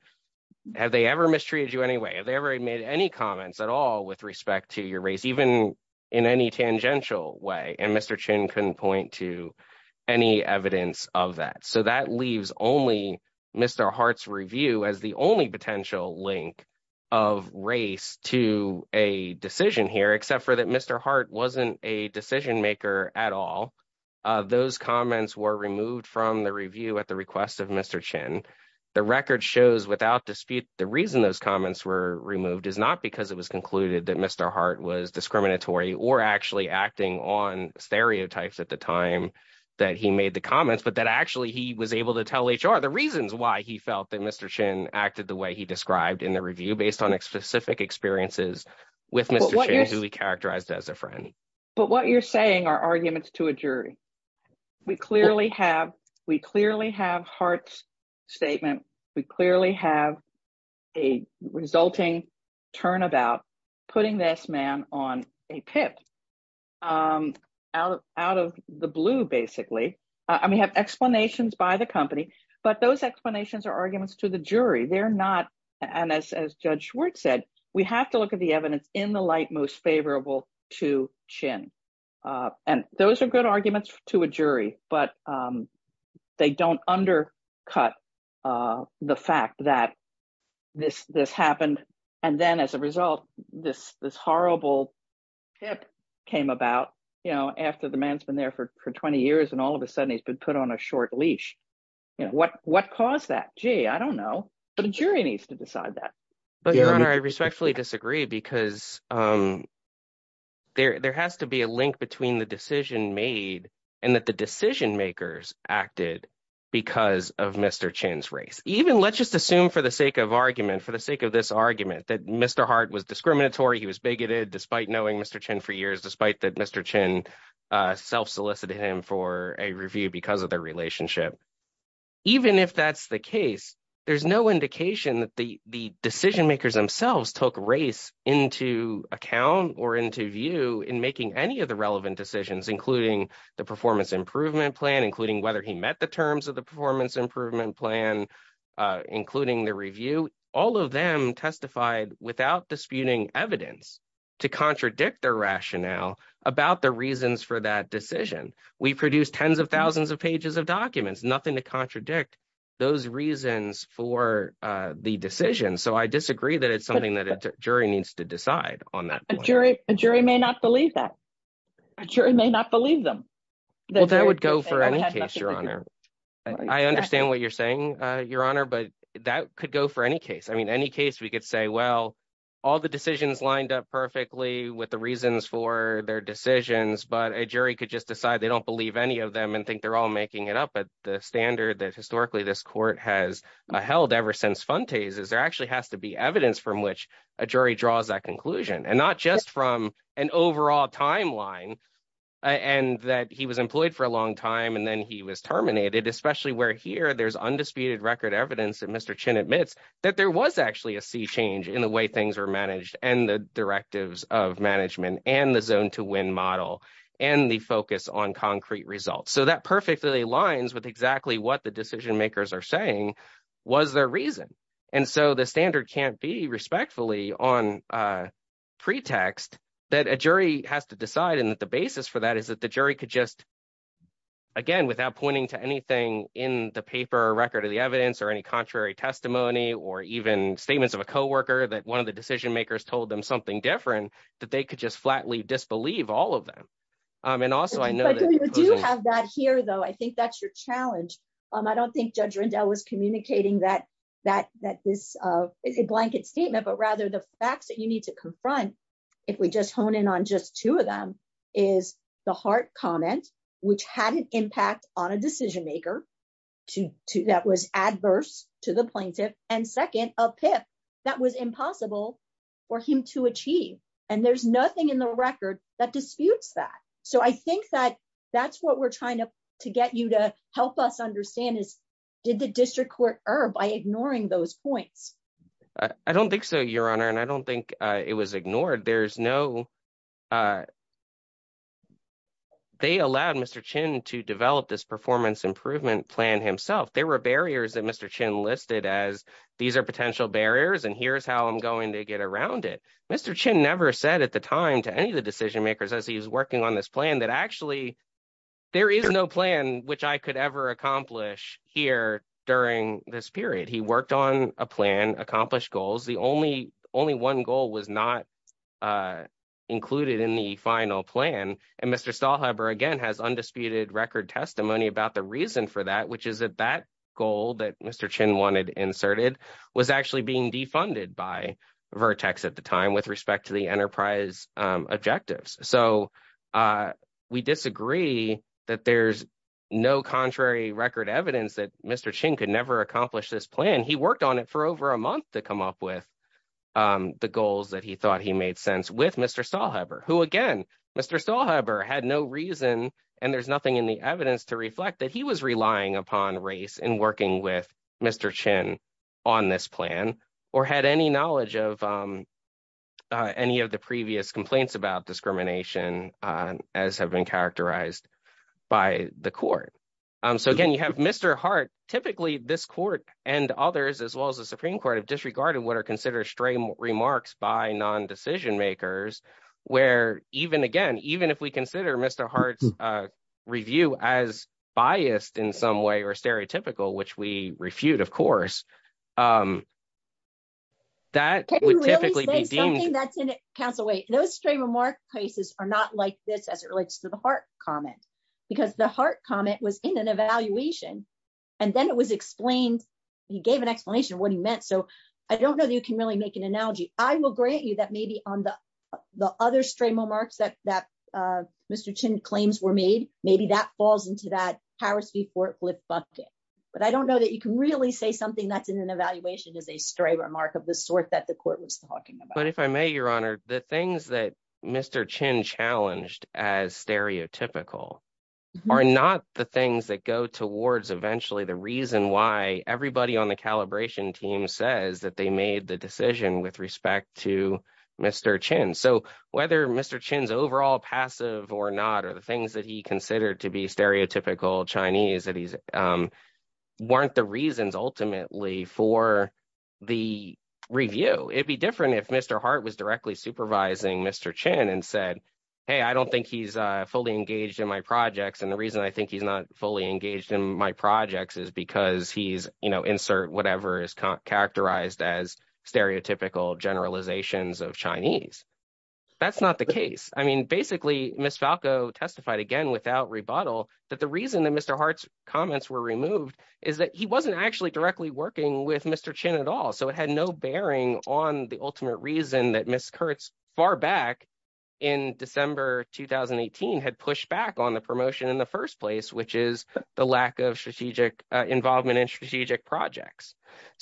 Have they ever mistreated you in any way? Have they ever made any comments at all with respect to your race, even in any tangential way? And Mr. Chin couldn't point to any evidence of that. So that leaves only Mr. Hart's review as the only potential link of race to a decision here, except for that Mr. Hart wasn't a decision maker at all. Those comments were removed from the review at the request of Mr. Chin. The record shows without dispute, the reason those comments were removed is not because it was concluded that Mr. Hart was discriminatory or actually acting on stereotypes at the time that he made the comments, but that actually he was able to tell HR the reasons why he felt that Mr. Chin acted the way he described in the review based on specific experiences with Mr. Chin, who he characterized as a friend. But what you're saying are arguments to a jury. We clearly have Hart's statement. We clearly have a resulting turnabout putting this man on a tip out of the blue, basically. I mean, have explanations by the company, but those explanations are arguments to the jury. They're to look at the evidence in the light most favorable to Chin. Those are good arguments to a jury, but they don't undercut the fact that this happened. Then as a result, this horrible tip came about after the man's been there for 20 years and all of a sudden he's been put on a short leash. What caused that? Gee, I don't know, but the jury needs to decide that. But Your Honor, I respectfully disagree because there has to be a link between the decision made and that the decision makers acted because of Mr. Chin's race. Even let's just assume for the sake of argument, for the sake of this argument, that Mr. Hart was discriminatory. He was bigoted despite knowing Mr. Chin for years, despite that Mr. Chin self-solicited him for a review because of their relationship. Even if that's the case, there's no indication that the decision makers themselves took race into account or into view in making any of the relevant decisions, including the performance improvement plan, including whether he met the terms of the performance improvement plan, including the review. All of them testified without disputing evidence to contradict their rationale about the reasons for that decision. We produced tens of thousands of pages of documents, nothing to contradict those reasons for the decision. So I disagree that it's something that a jury needs to decide on that point. A jury may not believe that. A jury may not believe them. Well, that would go for any case, Your Honor. I understand what you're saying, Your Honor, but that could go for any case. I mean, any case we could say, well, all the decisions lined up perfectly with the reasons for their decisions, but a jury could just decide they don't believe any of them and think they're all making it up at the standard that historically this court has held ever since Fontes. There actually has to be evidence from which a jury draws that conclusion, and not just from an overall timeline and that he was employed for a long time and then he was terminated, especially where here there's undisputed record evidence that Mr. Chin admits that there was actually a sea change in the way things were on concrete results. So that perfectly aligns with exactly what the decision makers are saying was their reason. And so the standard can't be respectfully on pretext that a jury has to decide and that the basis for that is that the jury could just, again, without pointing to anything in the paper or record of the evidence or any contrary testimony or even statements of a co-worker that one of the decision makers told them something different, that they could just have that here, though. I think that's your challenge. I don't think Judge Rendell was communicating that this is a blanket statement, but rather the facts that you need to confront if we just hone in on just two of them is the Hart comment, which had an impact on a decision maker that was adverse to the plaintiff, and second, a PIF that was impossible for him to achieve. And there's nothing in the record that disputes that. So I think that that's what we're trying to get you to help us understand is did the district court err by ignoring those points? I don't think so, Your Honor, and I don't think it was ignored. There's no... They allowed Mr. Chin to develop this performance improvement plan himself. There were barriers that Mr. Chin listed as these are potential barriers and here's how I'm going to get around it. Mr. Chin never said at the time to any of the decision makers as he was working on this plan that actually there is no plan which I could ever accomplish here during this period. He worked on a plan, accomplished goals. The only one goal was not included in the final plan, and Mr. Stahlheber again has undisputed record testimony about the reason for that, which is that that goal that Mr. Chin laid out was defunded by Vertex at the time with respect to the enterprise objectives. So we disagree that there's no contrary record evidence that Mr. Chin could never accomplish this plan. He worked on it for over a month to come up with the goals that he thought he made sense with Mr. Stahlheber, who again, Mr. Stahlheber had no reason and there's nothing in the evidence to reflect that he was relying upon race in working with Mr. Chin on this plan or had any knowledge of any of the previous complaints about discrimination as have been characterized by the court. So again, you have Mr. Hart, typically this court and others as well as the Supreme Court have disregarded what are considered stray remarks by non-decision makers where even again, even if we consider Mr. Hart's review as biased in some way or stereotypical, which we refute, of course, that would typically be deemed- Can you really say something that's in it, Counsel Wait? Those stray remarks cases are not like this as it relates to the Hart comment, because the Hart comment was in an evaluation and then it was explained, he gave an explanation what he meant. So I don't know if you can really make an analogy. I will grant you that maybe on the other stray remarks that Mr. Chin claims were made, maybe that falls into that Taraski-Fortwood bucket. But I don't know that you can really say something that's in an evaluation of a stray remark of the sort that the court was talking about. But if I may, Your Honor, the things that Mr. Chin challenged as stereotypical are not the things that go towards eventually the reason why everybody on the calibration team says that they made the to Mr. Chin. So whether Mr. Chin's overall passive or not, or the things that he considered to be stereotypical Chinese, weren't the reasons ultimately for the review. It'd be different if Mr. Hart was directly supervising Mr. Chin and said, hey, I don't think he's fully engaged in my projects. And the reason I think he's not fully engaged in my projects is because he's, insert whatever is characterized as stereotypical generalizations of Chinese. That's not the case. I mean, basically, Ms. Falco testified again without rebuttal, that the reason that Mr. Hart's comments were removed is that he wasn't actually directly working with Mr. Chin at all. So it had no bearing on the ultimate reason that Ms. Kurtz far back in December 2018 had pushed back on the promotion in the first place, which is the lack of strategic involvement in strategic projects.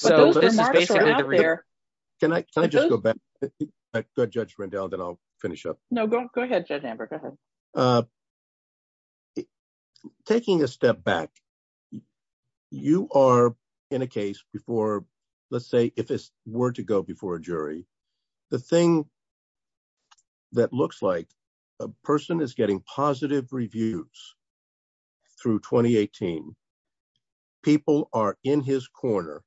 Taking a step back, you are in a case before, let's say if this were to go before a jury, the thing that looks like a person is getting positive reviews through 2018, people are in his corner.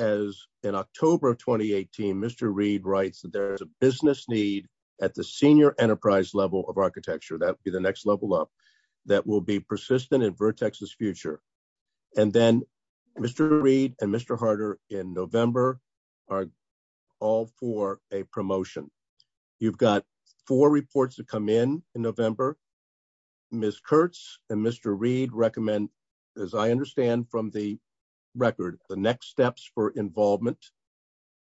As in October of 2018, Mr. Reid writes that there's a business need at the senior enterprise level of architecture. That'd be the next level up that will be persistent in Vertex's future. And then Mr. Reid and Mr. Harter in November are all for a promotion. You've got four reports to come in in November. Ms. Kurtz and Mr. Reid recommend, as I understand from the record, the next steps for involvement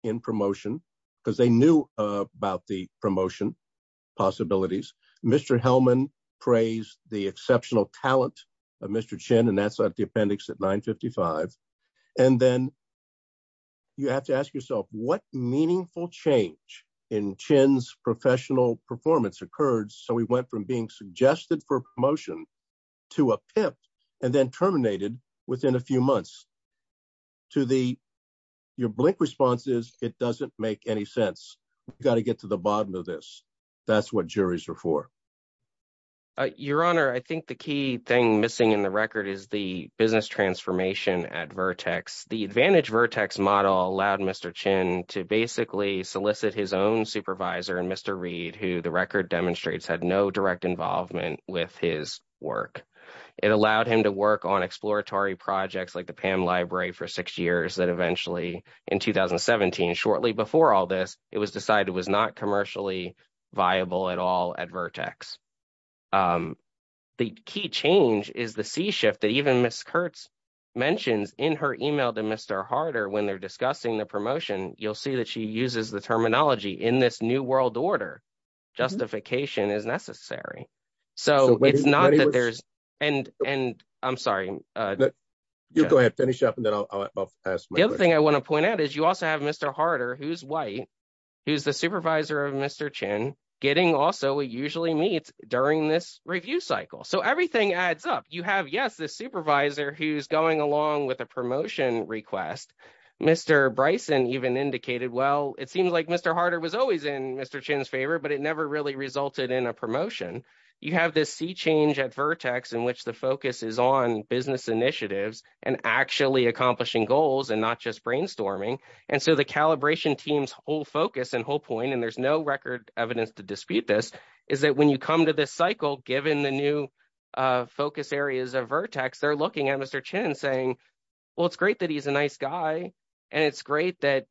in promotion, because they knew about the promotion possibilities. Mr. Hellman praised the exceptional talent of Mr. Chin, and that's at the appendix at 955. And then you have to ask yourself, what meaningful change in Chin's professional performance occurred so he went from being suggested for promotion to a pimp and then terminated within a few months? Your blink response is, it doesn't make any sense. We've got to get to the bottom of this. That's what juries are for. Your Honor, I think the key thing missing in the record is the business transformation at Vertex. The Advantage Vertex model allowed Mr. Chin to basically solicit his own supervisor and Mr. Reid, who the record demonstrates had no direct involvement with his work. It allowed him to work on exploratory projects like the PAM library for six years that eventually, in 2017, shortly before all this, it was decided was not commercially viable at all at Vertex. The key change is the C-shift that even Ms. Kurtz mentions in her email to Mr. Harder when they're discussing the promotion. You'll see that she uses the terminology, in this new world order, justification is necessary. It's not that there's... I'm sorry. You go ahead and finish up and then I'll ask my question. The other thing I want to point out is you also have Mr. Harder, who's white, who's the supervisor of Mr. Chin, getting also usually meets during this review cycle. Everything adds up. You have, yes, the supervisor who's going along with a promotion request. Mr. Bryson even indicated, well, it seems like Mr. Harder was always in Mr. Chin's favor but it never really resulted in a promotion. You have this C-change at Vertex in which the focus is on business initiatives and actually accomplishing goals and not just brainstorming. The calibration team's whole focus and whole point, and there's no record evidence to dispute this, is that when you come to this cycle, given the new focus areas of Vertex, they're looking at Mr. Chin saying, well, it's great that he's a nice guy and it's great that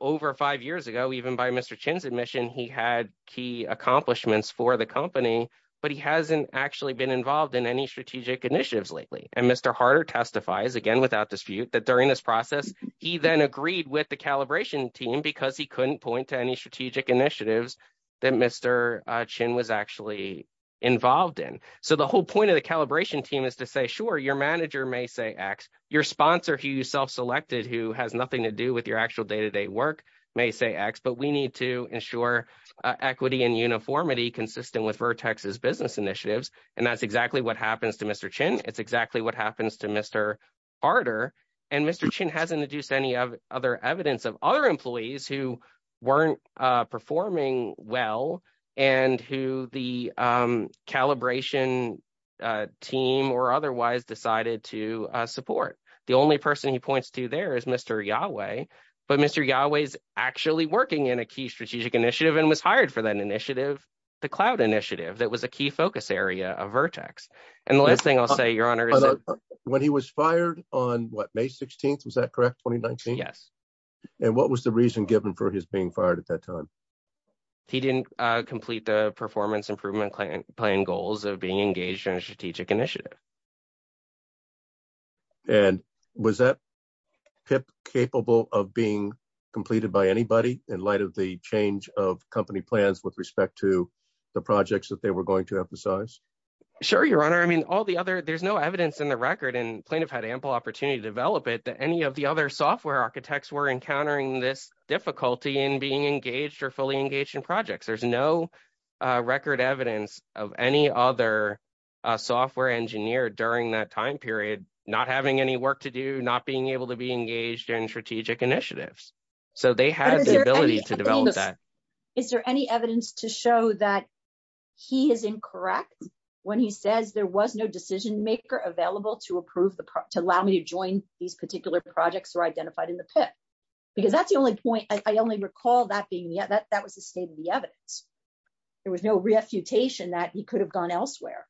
over five years ago, even by Mr. Chin's admission, he had key accomplishments for the company, but he hasn't actually been involved in any strategic initiatives lately. And Mr. Harder testifies, again, without dispute, that during this process, he then agreed with the calibration team because he couldn't point to any strategic initiatives that Mr. Chin was actually involved in. So the whole point of the calibration team is to say, sure, your manager may say X. Your sponsor who you self-selected who has nothing to do with your day-to-day work may say X, but we need to ensure equity and uniformity consistent with Vertex's business initiatives. And that's exactly what happens to Mr. Chin. It's exactly what happens to Mr. Harder. And Mr. Chin hasn't introduced any other evidence of other employees who weren't performing well and who the calibration team or otherwise decided to support. The only person he points to there is Mr. Yahweh, but Mr. Yahweh is actually working in a key strategic initiative and was hired for that initiative, the cloud initiative, that was a key focus area of Vertex. And the last thing I'll say, your honor. When he was fired on what, May 16th, was that correct, 2019? Yes. And what was the reason given for his being fired at that time? He didn't complete the performance improvement plan goals of being engaged in a strategic initiative. And was that PIP capable of being completed by anybody in light of the change of company plans with respect to the projects that they were going to emphasize? Sure, your honor. I mean, all the other, there's no evidence in the record and plaintiff had ample opportunity to develop it that any of the other software architects were encountering this difficulty in being engaged or fully engaged in projects. There's no record evidence of any other software engineer during that time period, not having any work to do, not being able to be engaged in strategic initiatives. So they had the ability to develop that. Is there any evidence to show that he is incorrect when he says there was no decision maker available to approve the, to allow me to join these particular projects or identified in the PIP? Because that's the only point, I only recall that being, that was the state of the evidence. There was no reputation that he could have gone elsewhere.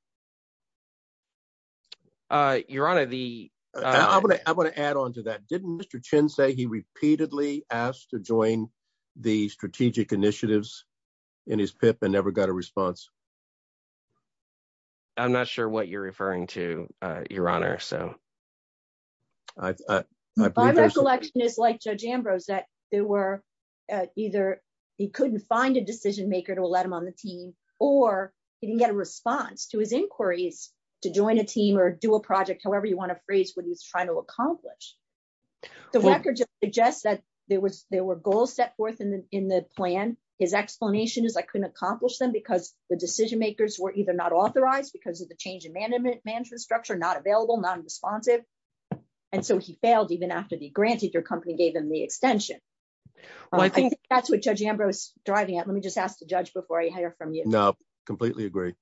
Your honor, the, I'm going to, I'm going to add onto that. Didn't Mr. Chin say he repeatedly asked to join the strategic initiatives in his PIP and never got a response? I'm not sure what you're referring to, your honor, so. My recollection is like Judge Ambrose that there were either he couldn't find a decision maker to let him on the team or he didn't get a response to his inquiries to join a team or do a project, however you want to phrase what he's trying to accomplish. The record just suggests that there was, there were goals set forth in the, in the plan. His explanation is I couldn't accomplish them because the decision makers were either not authorized because of the change in management structure, not available, non-responsive. And so he failed even after the grantees or company gave him the extension. I think that's what Judge Ambrose is driving at. Let me just ask the judge before I completely agree.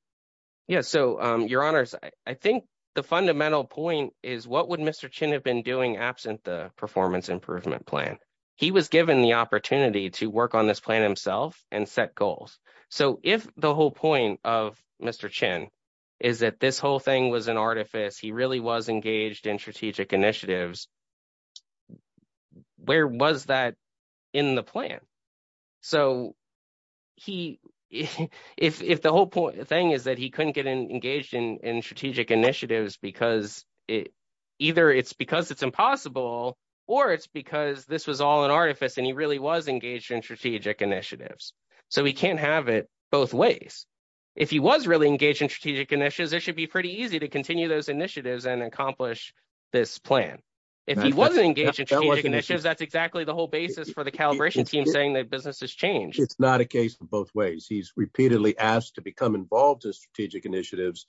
Yeah. So your honors, I think the fundamental point is what would Mr. Chin have been doing absent the performance improvement plan? He was given the opportunity to work on this plan himself and set goals. So if the whole point of Mr. Chin is that this whole thing was an artifice, he really was engaged in strategic initiatives, where was that in the plan? So he, if the whole thing is that he couldn't get engaged in strategic initiatives because it, either it's because it's impossible or it's because this was all an artifice and he really was engaged in strategic initiatives. So he can't have it both ways. If he was really engaged in strategic initiatives, it should be pretty easy to continue those initiatives and accomplish this plan. If he wasn't engaged in strategic initiatives, that's exactly the whole basis for the calibration team saying that business has changed. It's not a case for both ways. He's repeatedly asked to become involved in strategic initiatives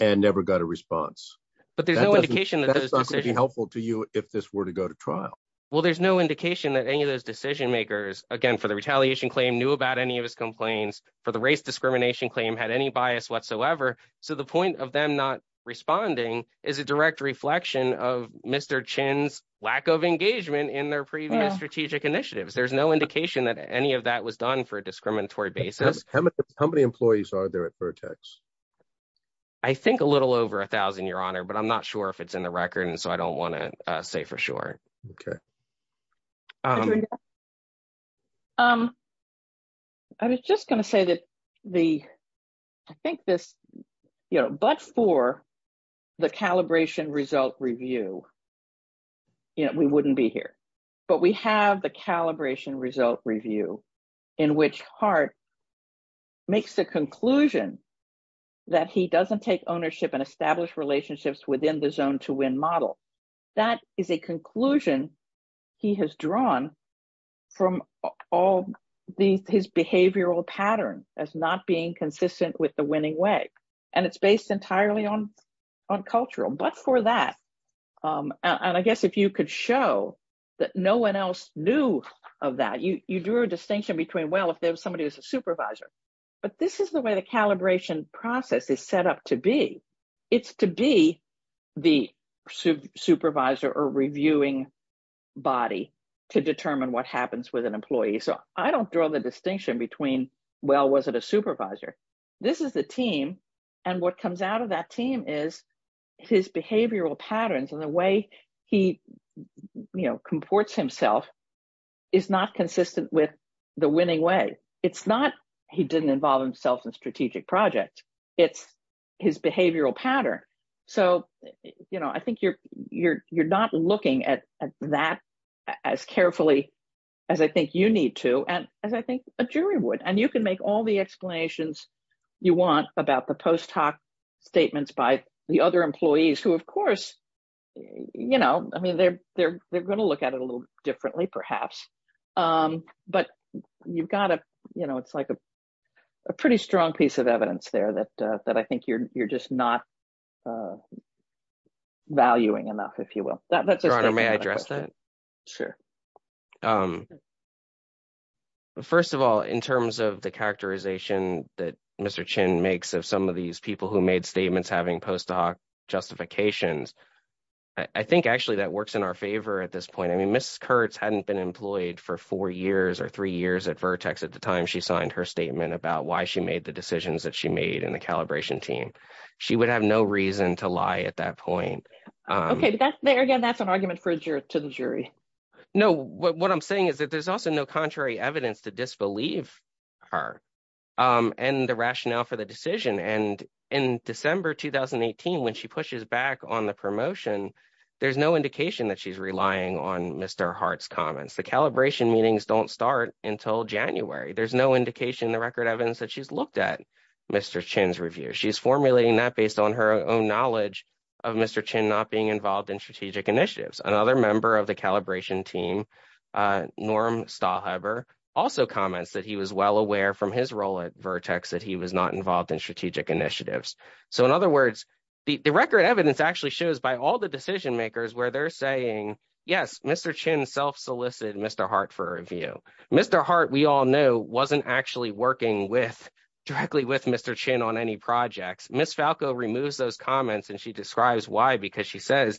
and never got a response. But there's no indication. That's not going to be helpful to you if this were to go to trial. Well, there's no indication that any of those decision makers, again, for the retaliation claim knew about any of his complaints for the discrimination claim had any bias whatsoever. So the point of them not responding is a direct reflection of Mr. Chin's lack of engagement in their previous strategic initiatives. There's no indication that any of that was done for a discriminatory basis. How many employees are there at Vertex? I think a little over a thousand, your honor, but I'm not sure if it's in the record so I don't want to say for sure. Okay. I was just going to say that the, I think this, you know, but for the calibration result review, you know, we wouldn't be here, but we have the calibration result review in which Hart makes the conclusion that he doesn't take ownership and establish relationships within the zone to win model. That is a conclusion he has drawn from all the, his behavioral pattern as not being consistent with the winning way. And it's based entirely on cultural, but for that, and I guess if you could show that no one else knew of that, you drew a distinction between, well, if there's somebody who's a supervisor, but this is the way the calibration process is set up to be. It's to be the supervisor or reviewing body to determine what happens with an employee. So I don't draw the distinction between, well, was it a supervisor? This is the team. And what comes out of that team is his behavioral patterns and the way he, you know, comports himself is not consistent with the winning way. It's not, he didn't involve himself in strategic project. It's his behavioral pattern. So, you know, I think you're, you're, you're not looking at that as carefully as I think you need to. And as I think a jury would, and you can make all the explanations you want about the post hoc statements by the other employees who, of course, you know, I mean, they're, they're, they're going to look at it a little differently perhaps. But you've got to, you know, it's like a, a pretty strong piece of evidence there that, that I think you're, you're just not valuing enough, if you will. That's a good question. Your Honor, may I address that? Sure. First of all, in terms of the characterization that Mr. Chin makes of some of these people made statements having post hoc justifications, I think actually that works in our favor at this point. I mean, Mrs. Kurtz hadn't been employed for four years or three years at Vertex at the time she signed her statement about why she made the decisions that she made in the calibration team. She would have no reason to lie at that point. Okay, but that's, again, that's an argument to the jury. No, what I'm saying is that there's also no contrary evidence to disbelieve her and the rationale for the decision. And in December 2018, when she pushes back on the promotion, there's no indication that she's relying on Mr. Hart's comments. The calibration meetings don't start until January. There's no indication in the record evidence that she's looked at Mr. Chin's review. She's formulating that based on her own knowledge of Mr. Chin not being involved in strategic initiatives. Another member of the calibration team, Norm Stahlheber, also comments that he was well aware from his role at Vertex that he was not involved in strategic initiatives. So, in other words, the record evidence actually shows by all the decision makers where they're saying, yes, Mr. Chin self solicited Mr. Hart for a review. Mr. Hart, we all know, wasn't actually working directly with Mr. Chin on any projects. Ms. Falco removes those comments and she describes why because she says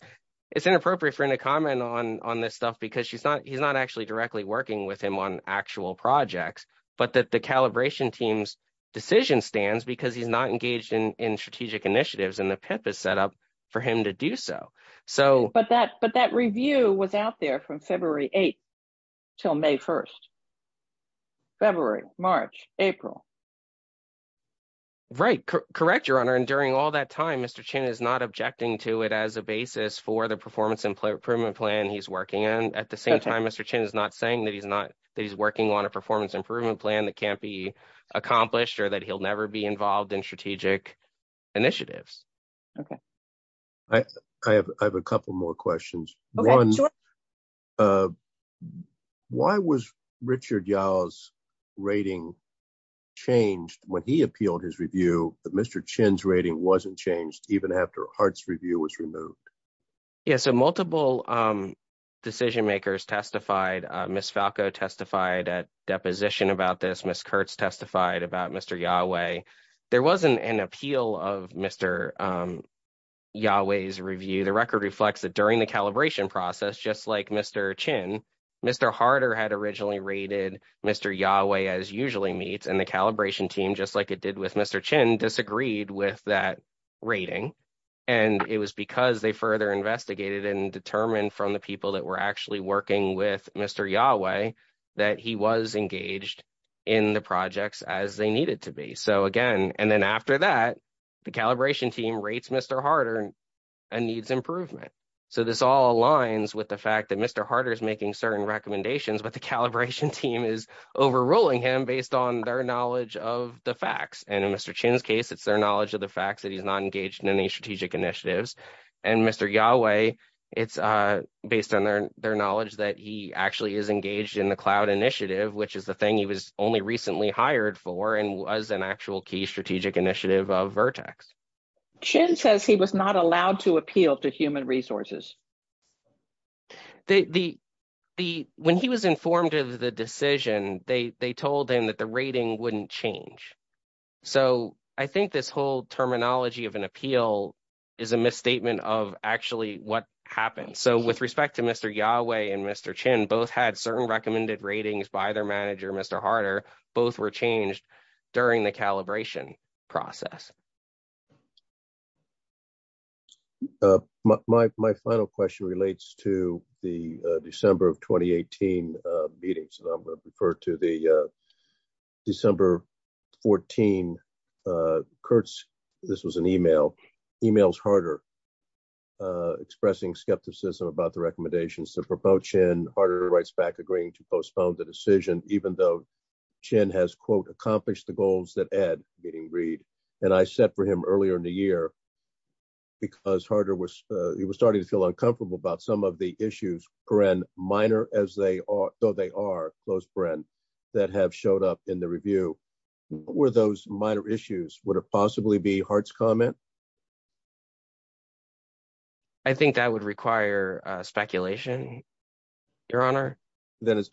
it's inappropriate for her to he's not actually directly working with him on actual projects, but that the calibration team's decision stands because he's not engaged in strategic initiatives and the PIP is set up for him to do so. But that review was out there from February 8th till May 1st. February, March, April. Right. Correct, Your Honor. And during all that time, Mr. Chin is not objecting to it as a basis for the performance improvement plan he's working in. At the same time, Mr. Chin is not saying that he's working on a performance improvement plan that can't be accomplished or that he'll never be involved in strategic initiatives. Okay. I have a couple more questions. One, why was Richard Yao's rating changed when he appealed his review, but Mr. Chin's rating wasn't changed even after Hart's review was removed? Yeah, so multiple decision makers testified. Ms. Falco testified at deposition about this. Ms. Kurtz testified about Mr. Yao. There wasn't an appeal of Mr. Yao's review. The record reflects that during the calibration process, just like Mr. Chin, Mr. Harter had originally rated Mr. Yao as usually meets. And the calibration team, just like it did with Mr. Chin, disagreed with that rating. And it was because they further investigated and determined from the people that were actually working with Mr. Yao that he was engaged in the projects as they needed to be. So again, and then after that, the calibration team rates Mr. Harter and needs improvement. So this all aligns with the fact that Mr. Harter is making certain recommendations, but the calibration team is overruling him based on their knowledge of the facts. And in Mr. Chin's case, it's their knowledge of the facts that he's not engaged in any strategic initiatives. And Mr. Yao, it's based on their knowledge that he actually is engaged in the cloud initiative, which is the thing he was only recently hired for and was an actual key strategic initiative of Vertex. Chin says he was not allowed to appeal to human resources. When he was informed of the decision, they told him that the rating wouldn't change. So I think this whole terminology of an appeal is a misstatement of actually what happened. So with respect to Mr. Yao and Mr. Chin, both had certain recommended ratings by their manager, Mr. Harter. Both were changed during the calibration process. My final question relates to the December of 2018 meetings. I'm going to refer to the December 14, Kurtz, this was an email, emails Harter expressing skepticism about the recommendations to propel Chin. Harter writes back agreeing to postpone the decision, even though Chin has quote, accomplished the goals that Ed getting agreed. And I set for him earlier in the year because Harter was, he was starting to feel uncomfortable about some of the issues, for an minor as they are, so they are those friends that have showed up in the review were those minor issues, would it possibly be Hart's comment? I think that would require speculation, your honor. Then does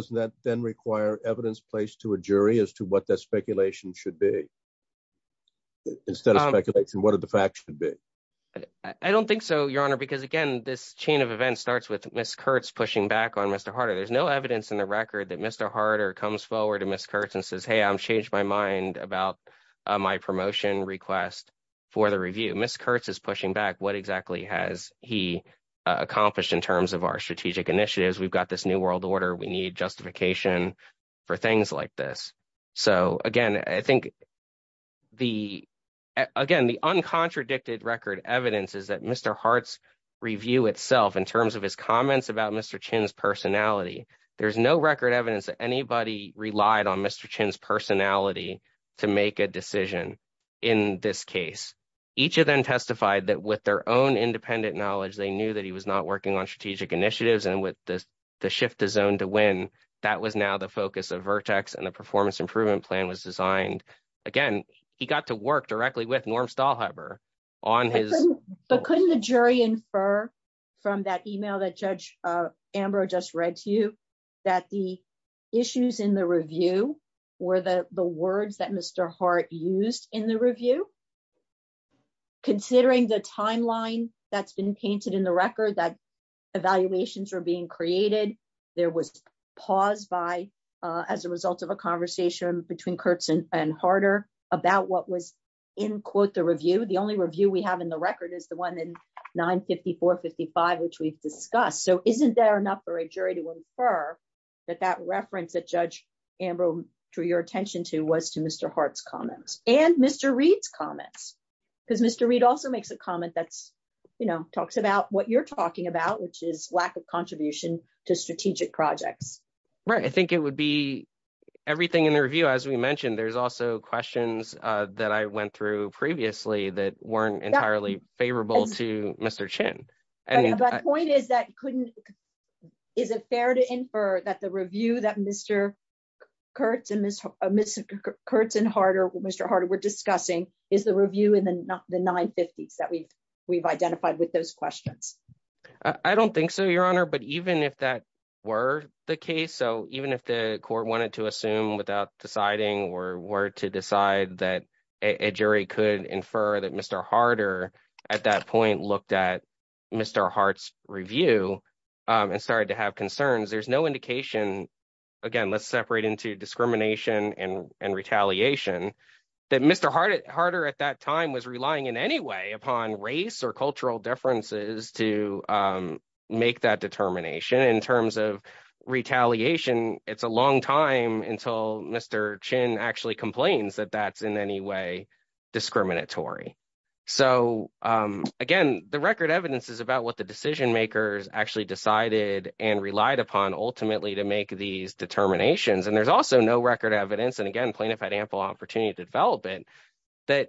that then require evidence placed to a jury as to what that speculation should be? Instead of speculation, what are the facts should be? I don't think so, your honor, because again, this chain of events starts with Ms. Kurtz pushing back on Mr. Harter. There's no evidence in the record that Mr. Harter comes forward to Ms. Kurtz and says, hey, I've changed my mind about my promotion request for the review. Ms. Kurtz is pushing back what exactly has he accomplished in terms of our strategic initiatives. We've got this new world order. We need justification for things like this. So again, I think the, again, the uncontradicted record evidence is that Mr. Hart's review itself in terms of his comments about Mr. Chin's personality, there's no record evidence that anybody relied on Mr. Chin's personality to make a decision in this case. Each of them testified that with their own independent knowledge, they knew that he was not working on strategic initiatives and with the shift his own to win, that was now the focus of Vertex and the performance improvement plan was designed. Again, he got to work directly with Norm Stahlheber on his- But couldn't the jury infer from that email that Judge Ambrose just read to you that the words that Mr. Hart used in the review, considering the timeline that's been painted in the record that evaluations are being created, there was pause by, as a result of a conversation between Kurtz and Harter about what was in quote the review. The only review we have in the record is the one in 954-55, which we've discussed. So isn't there enough for a jury to infer that that reference that Judge Ambrose drew your attention to was to Mr. Hart's comments and Mr. Reed's comments? Because Mr. Reed also makes a comment that talks about what you're talking about, which is lack of contribution to strategic projects. Right. I think it would be everything in the review, as we mentioned, there's also questions that I went through previously that weren't entirely favorable to Mr. Chin. But the point is that, is it fair to infer that the review that Mr. Kurtz and Mr. Harter were discussing is the review in the 950s that we've identified with those questions? I don't think so, Your Honor. But even if that were the case, so even if the court wanted to assume without deciding or were to decide that a jury could infer that Mr. Harter at that point looked at Mr. Hart's review and started to have concerns, there's no indication, again, let's separate into discrimination and retaliation, that Mr. Harter at that time was relying in any way upon race or cultural differences to make that determination. In terms of retaliation, it's a long time until Mr. Chin actually complains that that's in any way discriminatory. So, again, the record evidence is about what the decision makers actually decided and relied upon ultimately to make these determinations. And there's also no record evidence, and again, plaintiff had ample opportunity to develop it, that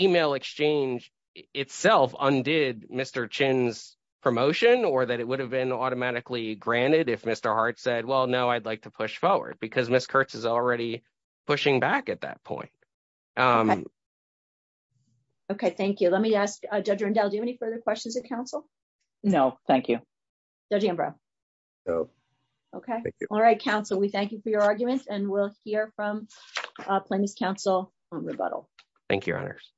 email exchange itself undid Mr. Chin's promotion or that it would have been automatically granted if Mr. Harter had pushed forward, because Ms. Kurtz is already pushing back at that point. Okay, thank you. Let me ask Judge Rundell, do you have any further questions of counsel? No, thank you. Judge Ambrose? No. Okay. All right, counsel, we thank you for your arguments, and we'll hear from Plaintiff's counsel on rebuttal. Thank you, Your Honors.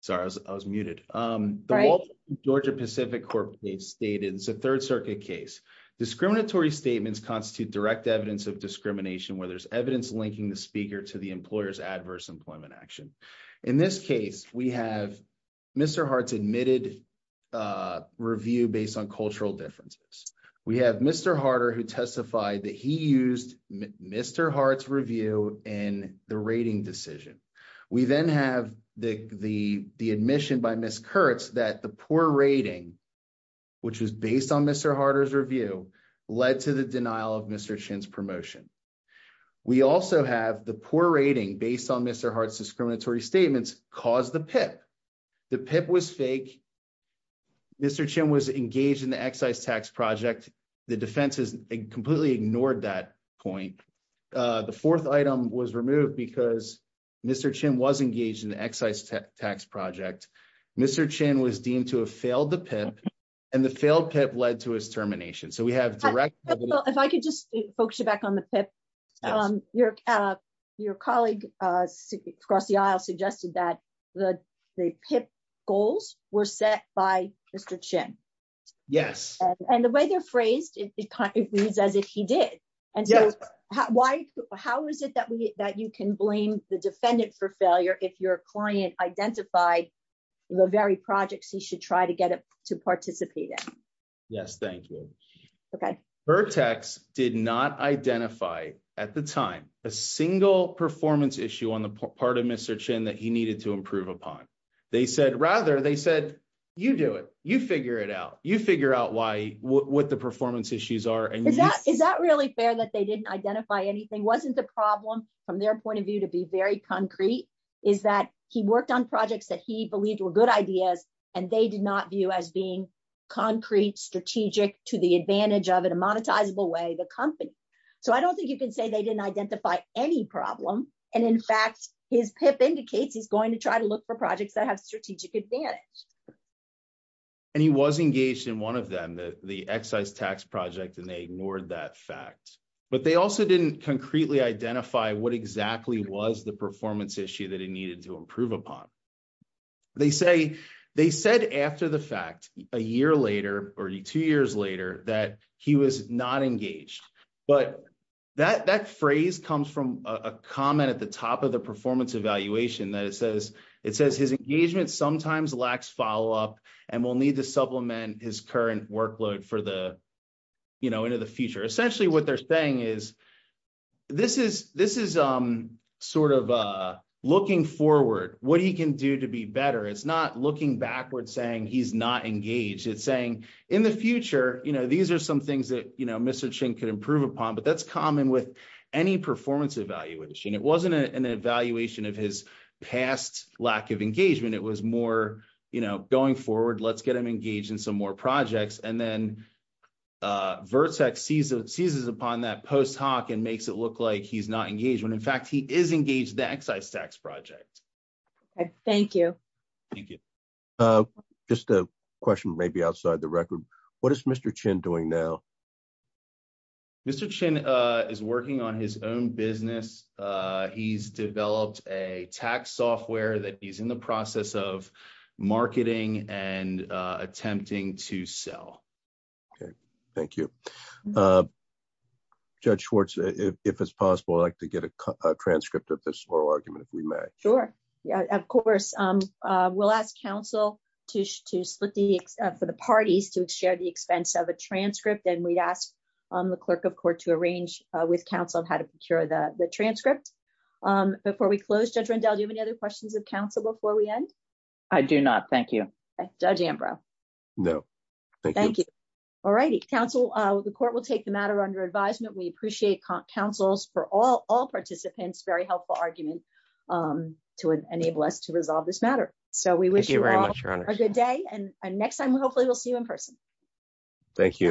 Sorry, I was muted. The Georgia Pacific Court case stated, it's a Third Circuit case. Discriminatory statements constitute direct evidence of discrimination where there's evidence linking the speaker to the employer's adverse employment action. In this case, we have Mr. Harter's admitted review based on cultural differences. We have Mr. Harter who testified that he used Mr. Harter's review in the rating decision. We then have the admission by Ms. Kurtz that the poor rating, which is based on Mr. Harter's review, led to the denial of Mr. Chin's promotion. We also have the poor rating based on Mr. Harter's discriminatory statements caused the PIP. The PIP was fake. Mr. Chin was engaged in the excise tax project. The defense completely ignored that point. The fourth item was removed because Mr. Chin was engaged in the excise tax project. Mr. Chin was deemed to have failed the PIP, and the failed PIP led to his termination. So we have direct- If I could just focus you back on the PIP. Your colleague across the aisle suggested that the PIP goals were set by Mr. Chin. Yes. And the way they're viewed is that he did. Yes. How is it that you can blame the defendant for failure if your client identified the very projects he should try to get to participate in? Yes. Thank you. Okay. Vertex did not identify at the time a single performance issue on the part of Mr. Chin that he needed to improve upon. Rather, they said, you do it. You figure it out. You figure out what the performance issues are. Is that really fair that they didn't identify anything? Wasn't the problem, from their point of view, to be very concrete? Is that he worked on projects that he believed were good ideas, and they did not view as being concrete, strategic, to the advantage of, in a monetizable way, the company? So I don't think you can say they didn't identify any problem. And in fact, his PIP indicates he's going to try to look for projects that have strategic advantage. And he was engaged in one of them, the excise tax project, and they ignored that fact. But they also didn't concretely identify what exactly was the performance issue that he needed to improve upon. They say, they said after the fact, a year later, or two years later, that he was not engaged. But that phrase comes from a comment at the top of the performance evaluation that it says, his engagement sometimes lacks follow-up, and will need to supplement his current workload for the, you know, into the future. Essentially, what they're saying is, this is, this is sort of looking forward, what he can do to be better. It's not looking backwards, saying he's not engaged. It's saying, in the future, you know, these are some things that, you know, Mr. Chin could improve upon. But that's common with any performance evaluation. It wasn't an evaluation of his past lack of engagement. It was more, you know, going forward, let's get him engaged in some more projects. And then, VRTSAC seizes upon that post hoc and makes it look like he's not engaged. In fact, he is engaged in the excise tax project. Okay, thank you. Thank you. Just a question, maybe outside the record. What is Mr. Chin doing now? Mr. Chin is working on his own business. He's developed a tax software that he's in the process of marketing and attempting to sell. Okay, thank you. Judge Schwartz, if it's possible, I'd like to get a transcript of this oral argument, if we may. Sure, yeah, of course. We'll ask counsel to split the, for the parties to share the expense of a transcript. And we'd ask the clerk of court to arrange with counsel how to procure the transcript. Before we close, Judge Rendell, do you have any other questions of counsel before we end? I do not, thank you. Judge Ambrose? No. Thank you. All righty, counsel, the court will take the matter under advisement. We appreciate counsel's, for all participants, very helpful argument to enable us to resolve this matter. So we wish you all a good day. And next time, hopefully we'll see you in person. Thank you.